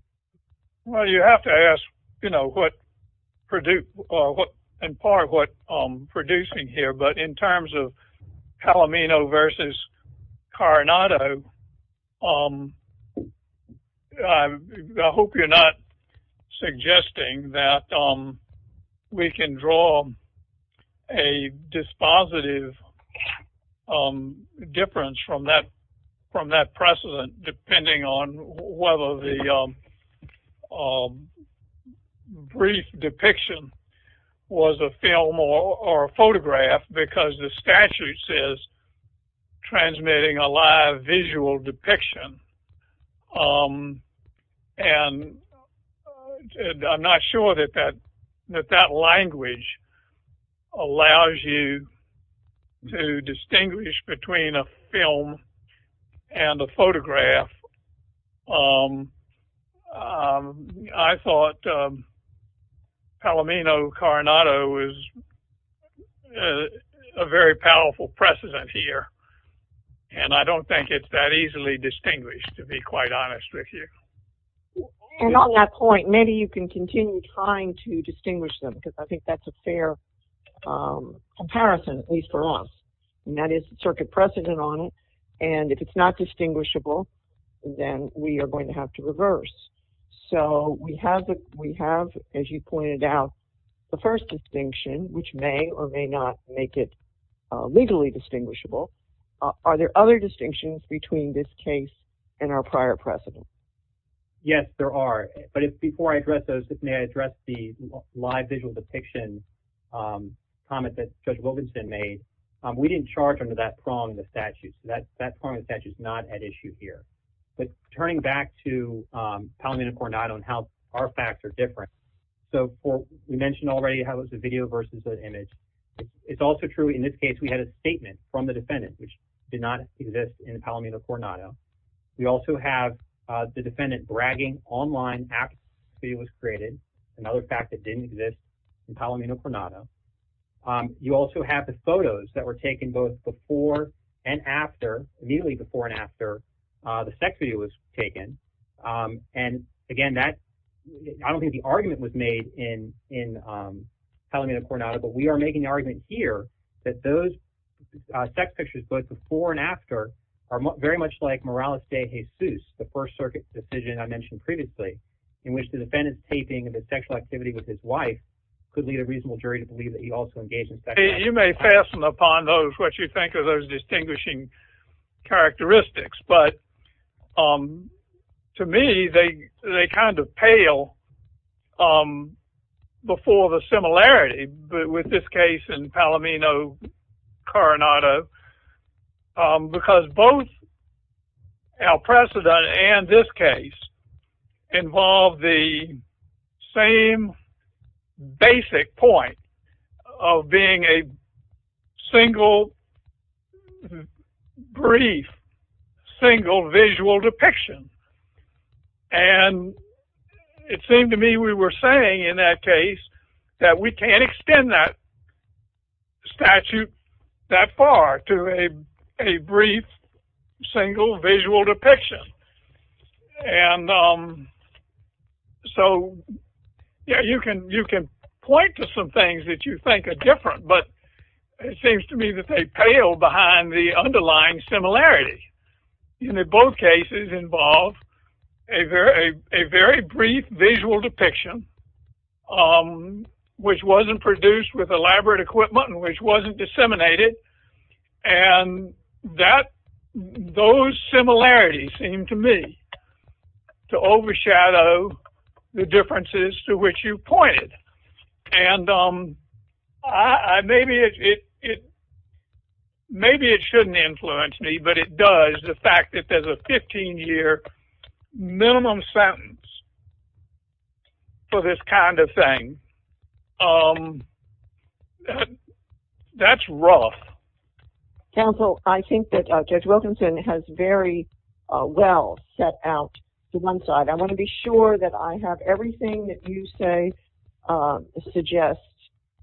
Well, you have to ask, you know, in part what producing here, but in terms of Palomino versus Coronado, I hope you're not suggesting that we can draw a dispositive difference from that precedent, depending on whether the brief depiction was a film or a photograph, because the statute says transmitting a live visual depiction. And I'm not sure that that language allows you to distinguish between a film and a photograph. I thought Palomino-Coronado was a very powerful precedent here, and I don't think it's that easily distinguished, to be quite honest with you. And on that point, maybe you can continue trying to distinguish them, because I think that's a fair comparison, at least for us. And that is the circuit precedent on it, and if it's not distinguishable, then we are going to have to reverse. So we have, as you pointed out, the first distinction, which may or may not make it legally distinguishable. Are there other distinctions between this case and our prior precedent? Yes, there are. But before I address those, let me address the live visual depiction comment that Judge Wilkinson made. We didn't charge under that prong the statute. That prong of the statute is not at issue here. But turning back to Palomino-Coronado and how our facts are different. So we mentioned already how it was the video versus the image. It's also true, in this case, we had a statement from the defendant, which did not exist in Palomino-Coronado. We also have the defendant bragging online after the video was created, another fact that didn't exist in Palomino-Coronado. You also have the photos that were taken both before and after, immediately before and after the sex video was taken. And again, I don't think the argument was made in Palomino-Coronado, but we are making the argument here that those sex pictures, both before and after, are very much like Morales de Jesus, the First Circuit decision I mentioned previously, in which the defendant's taping of his sexual activity with his wife could lead a reasonable jury to believe that he also engaged in sexual activity. You may fasten upon what you think are those distinguishing characteristics, but to me, they kind of pale before the similarity with this case in Palomino-Coronado, because both Al-Prasad and this case involve the same basic point of being a single, brief, single visual depiction. And it seemed to me we were saying in that case that we can't extend that statute that far to a brief, single visual depiction. And so, yeah, you can point to some things that you think are different, but it seems to me that they pale behind the underlying similarity. In both cases involve a very brief visual depiction, which wasn't produced with elaborate equipment and which wasn't disseminated, and those similarities seem to me to overshadow the differences to which you pointed. Maybe it shouldn't influence me, but it does. The fact that there's a 15-year minimum sentence for this kind of thing, that's rough. Counsel, I think that Judge Wilkinson has very well set out the one side. I want to be sure that I have everything that you say suggests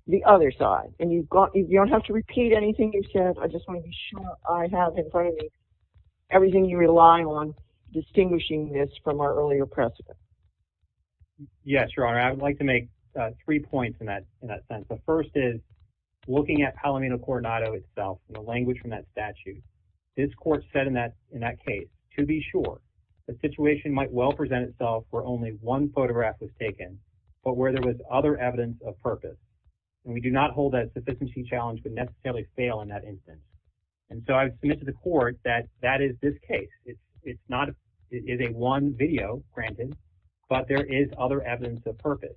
the other side, and you don't have to repeat anything you said. I just want to be sure I have in front of me everything you rely on distinguishing this from our earlier precedent. Yes, Your Honor. Your Honor, I would like to make three points in that sense. The first is, looking at Palomino Coronado itself, the language from that statute, this court said in that case, to be sure, the situation might well present itself where only one photograph was taken, but where there was other evidence of purpose, and we do not hold that sufficiency challenge would necessarily fail in that instance. And so, I've submitted to the court that that is this case. It is a one video, granted, but there is other evidence of purpose.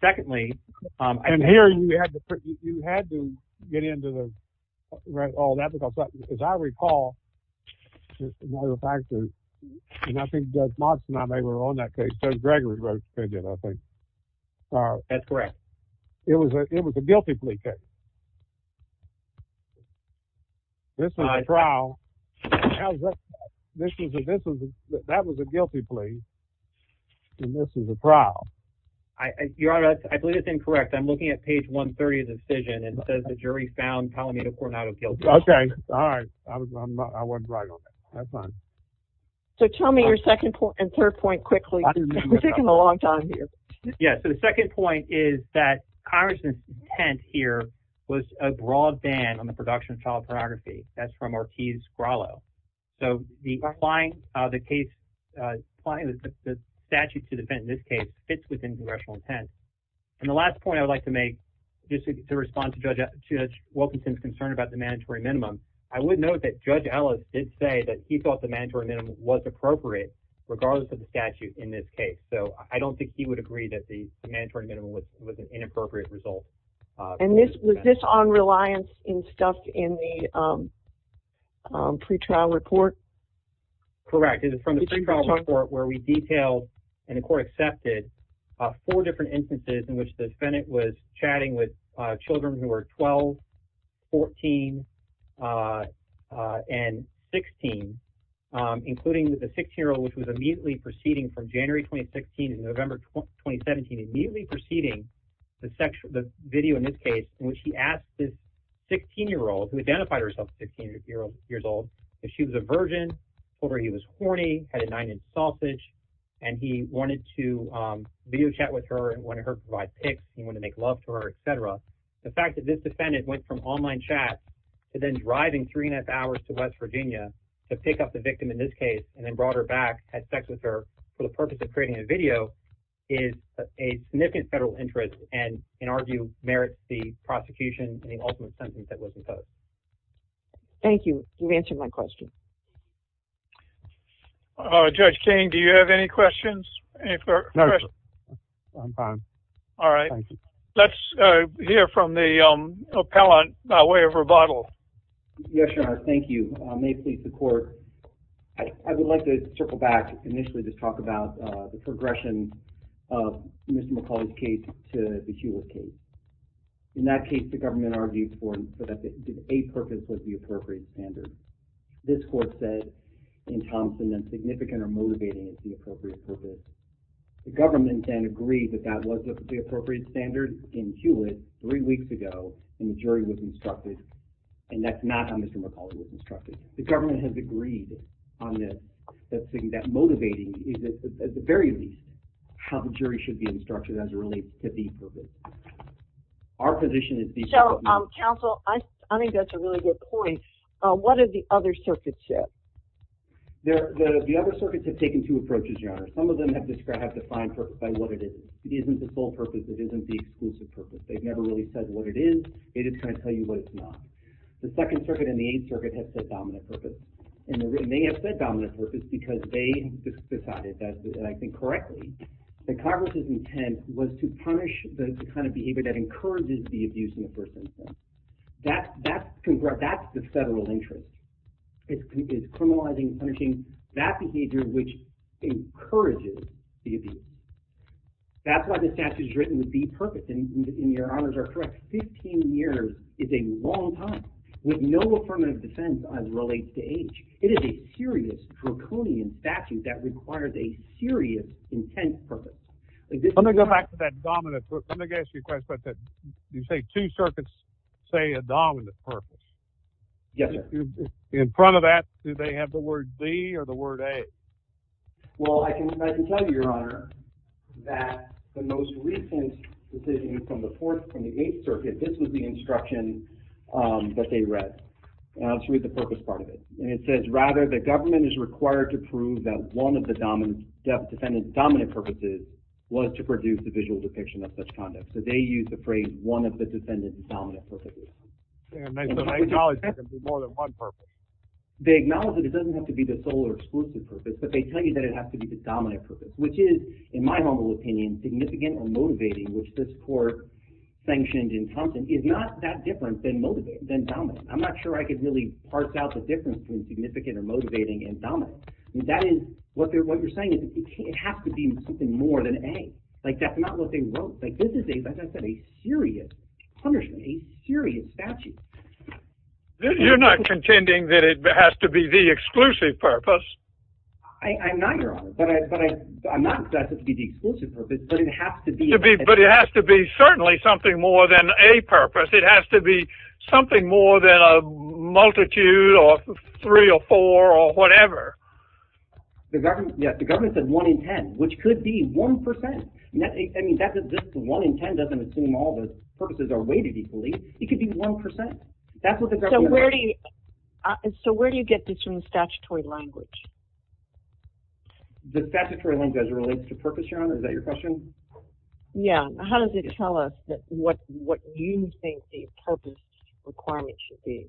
Secondly... And here, you had to get into all that, because as I recall, and I think Judge Monson and I were on that case, Judge Gregory wrote a statement, I think. That's correct. It was a guilty plea case. This is a trial. That was a guilty plea. And this is a trial. Your Honor, I believe it's incorrect. I'm looking at page 130 of the decision, and it says the jury found Palomino Coronado guilty. Okay. All right. I wasn't right on that. That's fine. So, tell me your second and third point quickly. We're taking a long time here. Yeah, so the second point is that Congressman's intent here was a broad ban on the production of child pornography. That's from Marquise Grillo. So, applying the case, applying the statute to defend this case fits within congressional intent. And the last point I'd like to make, just to respond to Judge Wilkinson's concern about the mandatory minimum, I would note that Judge Ellis did say that he thought the mandatory minimum was appropriate, regardless of the statute in this case. So, I don't think he would agree that the mandatory minimum was an inappropriate result. And was this on reliance in stuff in the pre-trial report? Correct. It is from the pre-trial report where we detailed and the court accepted four different instances in which the Senate was chatting with children who were 12, 14, and 16, including the six-year-old, which was immediately proceeding from January 2016 to November 2017, immediately proceeding, the video in this case, in which he asked this 16-year-old, who identified herself as 16 years old, if she was a virgin, told her he was horny, had a nine-inch sausage, and he wanted to video chat with her and wanted her to provide pics, he wanted to make love to her, et cetera. The fact that this defendant went from online chats to then driving three and a half hours to West Virginia to pick up the victim in this case and then brought her back, had sex with her, for the purpose of creating a video is a significant federal interest and, in our view, merits the prosecution and the ultimate sentence that was imposed. Thank you. You've answered my question. Judge King, do you have any questions? No. I'm fine. All right. Let's hear from the appellant by way of rebuttal. Yes, Your Honor. Thank you. May it please the court, I would like to trickle back initially to talk about the progression of Ms. McCauley's case to the Hewitt case. In that case, the government argued for that the a-purpose was the appropriate standard. This court said in Thompson that significant or motivating is the appropriate purpose. The government then agreed that that was the appropriate standard in Hewitt three weeks ago, and the jury was instructed, and that's not how Ms. McCauley was instructed. The government has agreed on this, that motivating is at the very least how the jury should be instructed as it relates to the a-purpose. Our position is... Counsel, I think that's a really good point. What do the other circuits say? The other circuits have taken two approaches, Your Honor. Some of them have defined purpose by what it is. It isn't the full purpose. It isn't the exclusive purpose. They've never really said what it is. They just kind of tell you what it's not. The Second Circuit and the Eighth Circuit have said dominant purpose, and they may have said dominant purpose because they decided, and I think correctly, that Congress's intent was to punish the kind of behavior that encourages the abuse in the first instance. That's the federal interest. It's criminalizing, punishing that behavior which encourages the abuse. That's why the statute is written with the purpose, and Your Honors are correct. 15 years is a long time with no affirmative defense as relates to age. It is a furious, draconian statute that requires a furious, intense purpose. Let me go back to that dominant purpose. Let me ask you a question about that. You say two circuits say a dominant purpose. Yes, sir. In front of that, do they have the word B or the word A? Well, I can tell you, Your Honor, that the most recent decision from the Fourth and the Eighth Circuit, this is the instruction that they read. And I'll just read the purpose part of it. And it says, rather, the government is required to prove that one of the defendant's dominant purposes was to produce a visual depiction of such conduct. So they use the phrase one of the defendant's dominant purposes. So they acknowledge there can be more than one purpose. They acknowledge that it doesn't have to be the sole or exclusive purpose, but they tell you that it has to be the dominant purpose, which is, in my humble opinion, significant or motivating, which this court sanctioned in Thompson is not that different than dominant. I'm not sure I could really parse out the difference between significant or motivating and dominant. That is, what you're saying is it has to be something more than A. Like, that's not what they wrote. Like, this is a serious punishment, a serious statute. You're not contending that it has to be the exclusive purpose. I'm not, Your Honor. But I'm not, but it has to be the exclusive purpose, but it has to be... But it has to be certainly something more than a purpose. It has to be something more than a multitude or three or four or whatever. The government said one in ten, which could be one percent. I mean, one in ten doesn't assume all the purposes are weighted equally. It could be one percent. That's what the government... So, where do you get this from the statutory language? The statutory language as it relates to purpose, Your Honor. Is that your question? Yeah. How does it tell us what you think the purpose requirement should be?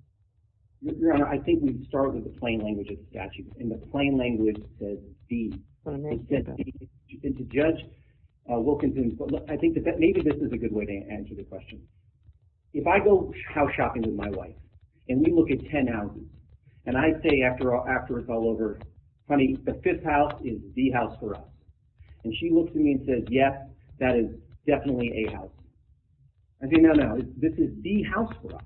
Your Honor, I think we start with the plain language of the statute. And the plain language says the. It says the. And to judge Wilkinson, I think that maybe this is a good way to answer the question. If I go house shopping with my wife and we look at ten houses, and I say after it's all over, honey, the fifth house is the house for us. And she looks at me and says, yes, that is definitely a house. I say, no, no, this is the house for us.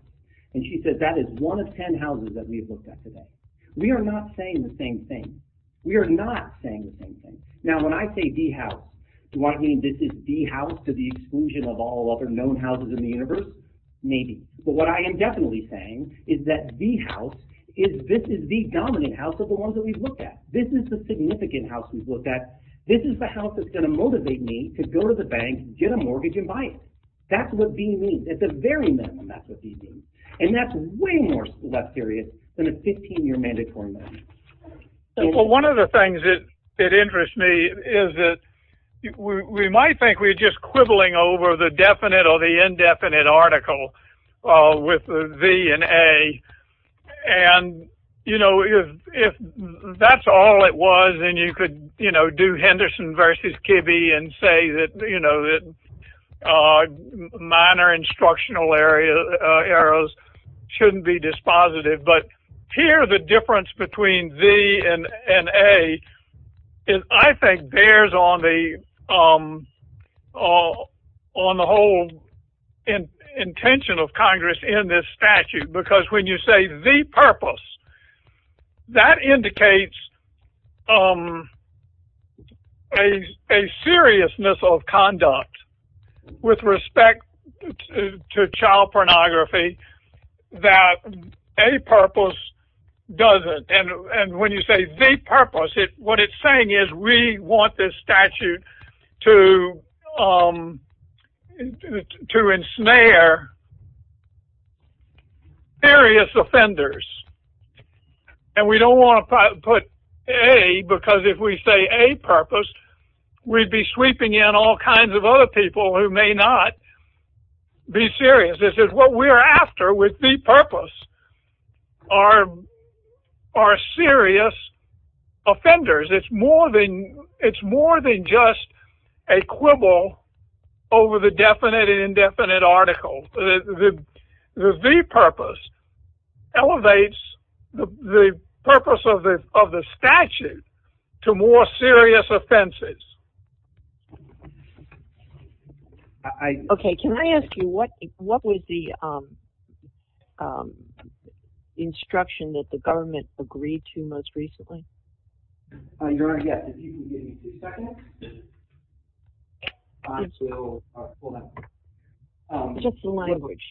And she says, that is one of ten houses that we have looked at today. We are not saying the same thing. We are not saying the same thing. Now, when I say the house, do I mean this is the house to the exclusion of all other known houses in the universe? Maybe. But what I am definitely saying is that the house is, this is the dominant house of the ones that we've looked at. This is the significant house we've looked at. This is the house that's gonna motivate me to go to the bank and get a mortgage and buy it. That's what the means. At the very minimum, that's what the means. And that's way more select area than a 15-year mandatory loan. Well, one of the things that interests me is that we might think we're just quibbling over the definite or the indefinite article with the V and A. And, you know, if that's all it was, then you could, you know, do Henderson versus Kibbe and say that, you know, minor instructional errors shouldn't be dispositive. But here, the difference between V and A, I think, bears on the whole intention of Congress in this statute. Because when you say the purpose, that indicates a seriousness of conduct with respect to child pornography that a purpose doesn't. And when you say the purpose, what it's saying is we want this statute to ensnare serious offenders. And we don't want to put A because if we say a purpose, we'd be sweeping in all kinds of other people who may not be serious. This is what we're after with the purpose are serious offenders. It's more than just a quibble over the definite and indefinite article. The V purpose elevates the purpose of the statute to more serious offenses. Okay, can I ask you, what was the instruction that the government agreed to most recently? Your Honor, yes. If you could give me a second. I'm sorry. Hold on. Just the language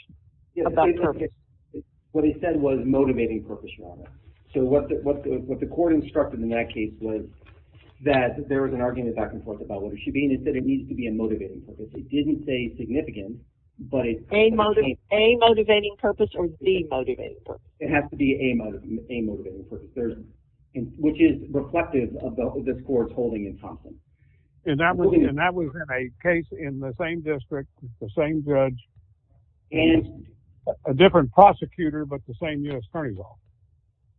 about purpose. What it said was motivating purpose, Your Honor. So what the court instructed in that case was that there was an argument back and forth about what it should be and it said it needs to be a motivating purpose. It didn't say significant, but it's... A motivating purpose or B motivating purpose. It has to be A motivating purpose. Which is reflective of what this court is holding in confidence. And that was in a case in the same district, the same judge, and a different prosecutor, but the same U.S. Attorney's Office.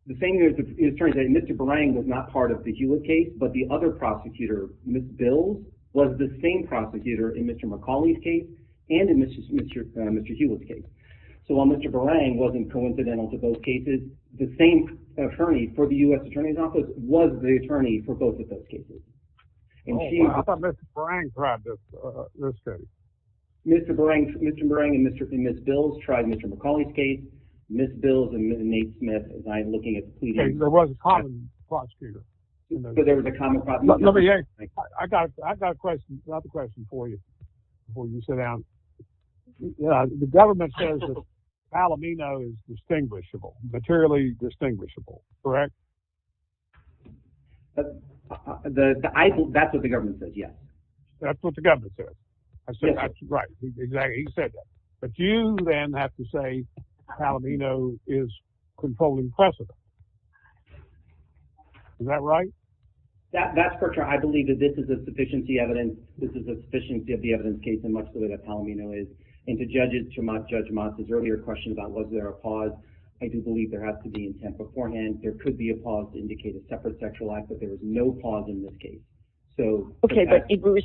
The same U.S. Attorney's Office. Mr. Barang was not part of the Hewlett case, but the other prosecutor, Ms. Bills, was the same prosecutor in Mr. McCauley's case and in Mr. Hewlett's case. So while Mr. Barang wasn't coincidental to both cases, the same attorney for the U.S. Attorney's Office was the attorney for both of those cases. How about Mr. Barang tried this case? Mr. Barang and Ms. Bills tried Mr. McCauley's case, Ms. Bills and Ms. Smith by looking at... There was a common prosecutor. There was a common prosecutor. I've got a question for you before you sit down. The government says that Palomino is distinguishable, materially distinguishable. Correct? That's what the government said, yes. That's what the government said? Yes. Right, exactly. He said that. But you then have to say Palomino is controlling precedent. Is that right? That's correct. I believe that this is a sufficiency evidence. This is a sufficiency of the evidence case in much the way that Palomino is. And to judge it, to Judge Moss's earlier question about was there a cause, I do believe there has to be intent beforehand. There could be a cause to indicate a separate sexual act, but there was no cause in this case. Okay, but Bruce,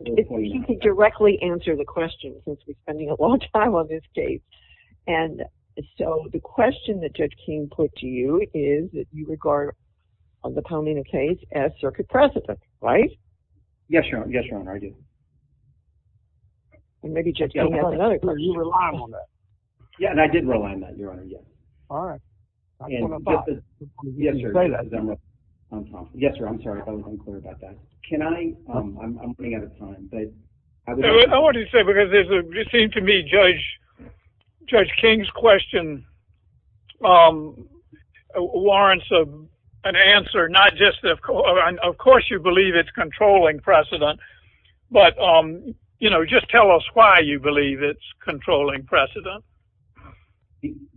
you can directly answer the question since we're spending a long time on this case. And so the question that Judge King put to you is that you regard the Palomino case as circuit precedent, right? Yes, Your Honor, I do. And maybe Judge King has another question. Yeah, and I did rely on that, Your Honor, yes. All right. Yes, Your Honor. Yes, Your Honor, I'm sorry. I'm unclear about that. Can I? I'm running out of time. I wanted to say because it seemed to me Judge King's question warrants an answer, not just of course you believe it's controlling precedent, but just tell us why you believe it's controlling precedent.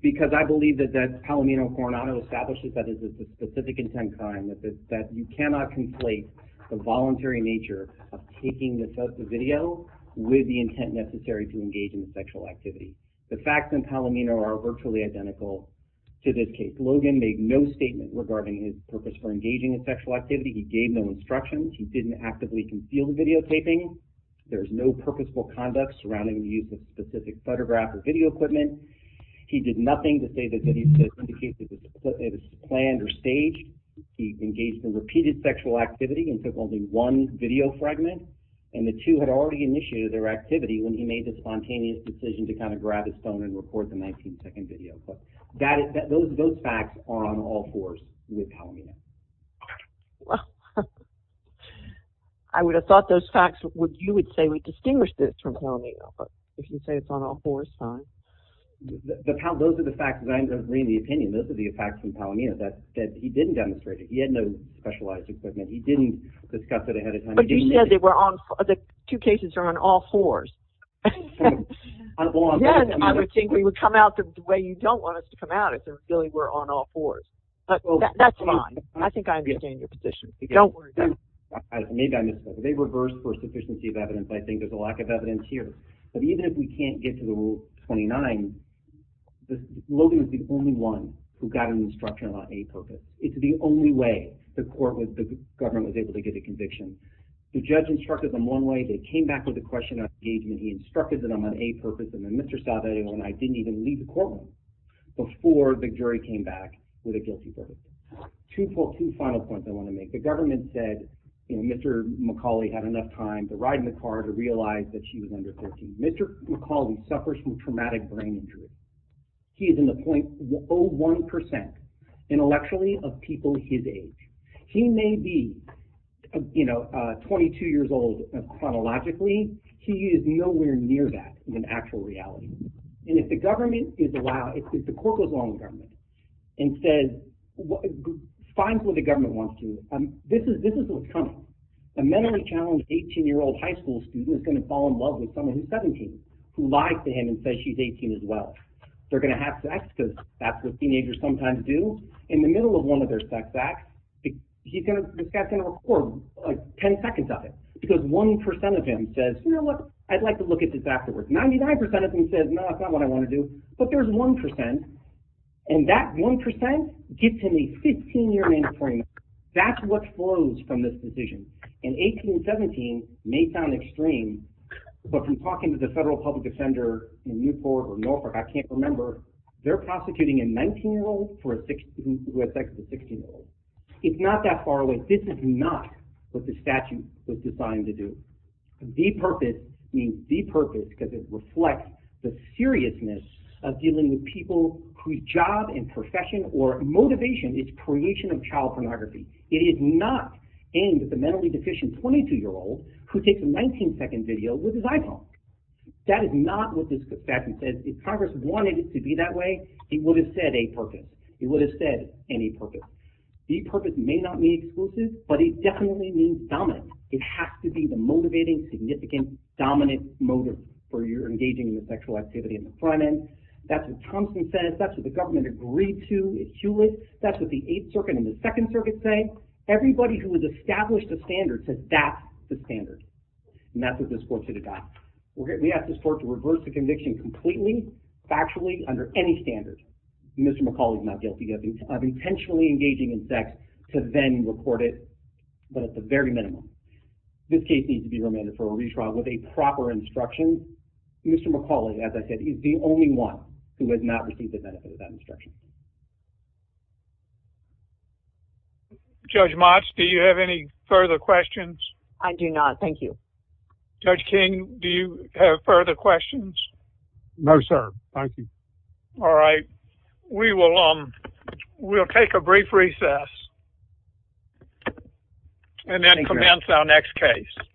Because I believe that Palomino and Coronado established that as a specific intent crime, that you cannot conflate the voluntary nature of taking the video with the intent necessary to engage in sexual activity. The facts in Palomino are virtually identical to this case. Logan made no statement regarding his purpose for engaging in sexual activity. He gave no instructions. He didn't actively conceal the videotaping. There was no purposeful conduct surrounding the use of specific photograph or video equipment. He did nothing to indicate that it was planned or staged. He engaged in repeated sexual activity and took only one video fragment, and the two had already initiated their activity when he made the spontaneous decision to kind of grab his phone and record the 19-second video. Those facts are on all fours with Palomino. Well, I would have thought those facts you would say we distinguish this from Palomino, but if you say it's on all fours, fine. Those are the facts that I'm bringing to the opinion. Those are the facts from Palomino that he didn't demonstrate it. He had no specialized equipment. He didn't discuss it ahead of time. But you said the two cases are on all fours. Then I would think they would come out the way you don't want them to come out if they really were on all fours. That's fine. I think I understand your position. Don't worry. Maybe I missed it. The reverse for sufficiency of evidence, I think, is a lack of evidence here. But even if we can't get to the Rule 29, Logan was the only one who got an instruction on aid purpose. It's the only way the court was, the government was able to get a conviction. The judge instructed them one way. They came back with a question on engagement. He instructed them on aid purpose. And then Mr. Stavridis and I didn't even leave the courtroom before the jury came back with a guilty verdict. Two final points I want to make. The government said Mr. McCauley had enough time to ride in the car to realize that she was under 14. Mr. McCauley suffers from traumatic brain injury. He is in the 0.01% intellectually of people his age. He may be 22 years old chronologically. He is nowhere near that in actual reality. And if the government is allowed, if the court goes along with the government and says fine for what wants to do, this is what's coming. A mentally challenged 18 year old high school student is going to fall in love with someone who's 17 who lies to her and says she's 18 as well. They're going to have sex because that's what teenagers sometimes do. In the middle of one of their sex acts, this guy's going to record 10 seconds of it because 1% of him says, you know what, I'd like to look at this afterwards. 99% of him says, no, that's not what I want to do. But there's 1% and that 1% gives him a 15 year mandatory sentence. That's what flows from this decision. In 1817, it may sound extreme, but from talking to the federal public defender in Newport or Norfolk, I can't remember, they're prosecuting a 19 year old who has sex with a 16 year old. It's not that far away. This is not what the statute was designed to do. Depurpose means depurpose because it reflects the seriousness of dealing with people whose job and profession or motivation is creation of child pornography. It is not aimed at the mentally deficient 22 year old who takes a 19 second video with his iPhone. That is not what the statute says. If Congress wanted it to be that way, it would have said a purpose. It would have said any purpose. Depurpose may not mean exclusive, but it definitely means dominant. It has to be the motivating, significant, dominant motive for your engaging in sexual activity in the front end. That's what Thompson says. That's what the government agreed to. That's what the 8th circuit and the 2nd circuit say. So, everybody who has established a standard says that's the standard. And that's what this court said it got. We asked this court to reverse the conviction completely, factually, under any standard. Mr. McCaul is not guilty of intentionally engaging in sex to then record it, but at the very minimum. This case needs to be remanded for a retrial with a proper instruction. Mr. McCaul, as I said, is the only one who has not received the benefit of that instruction. Thank you. Judge Motz, do you have any further questions? I do not. Thank you. Judge King, do you have further questions? No, sir. Thank you. All right. We will take a brief recess and then commence our next case.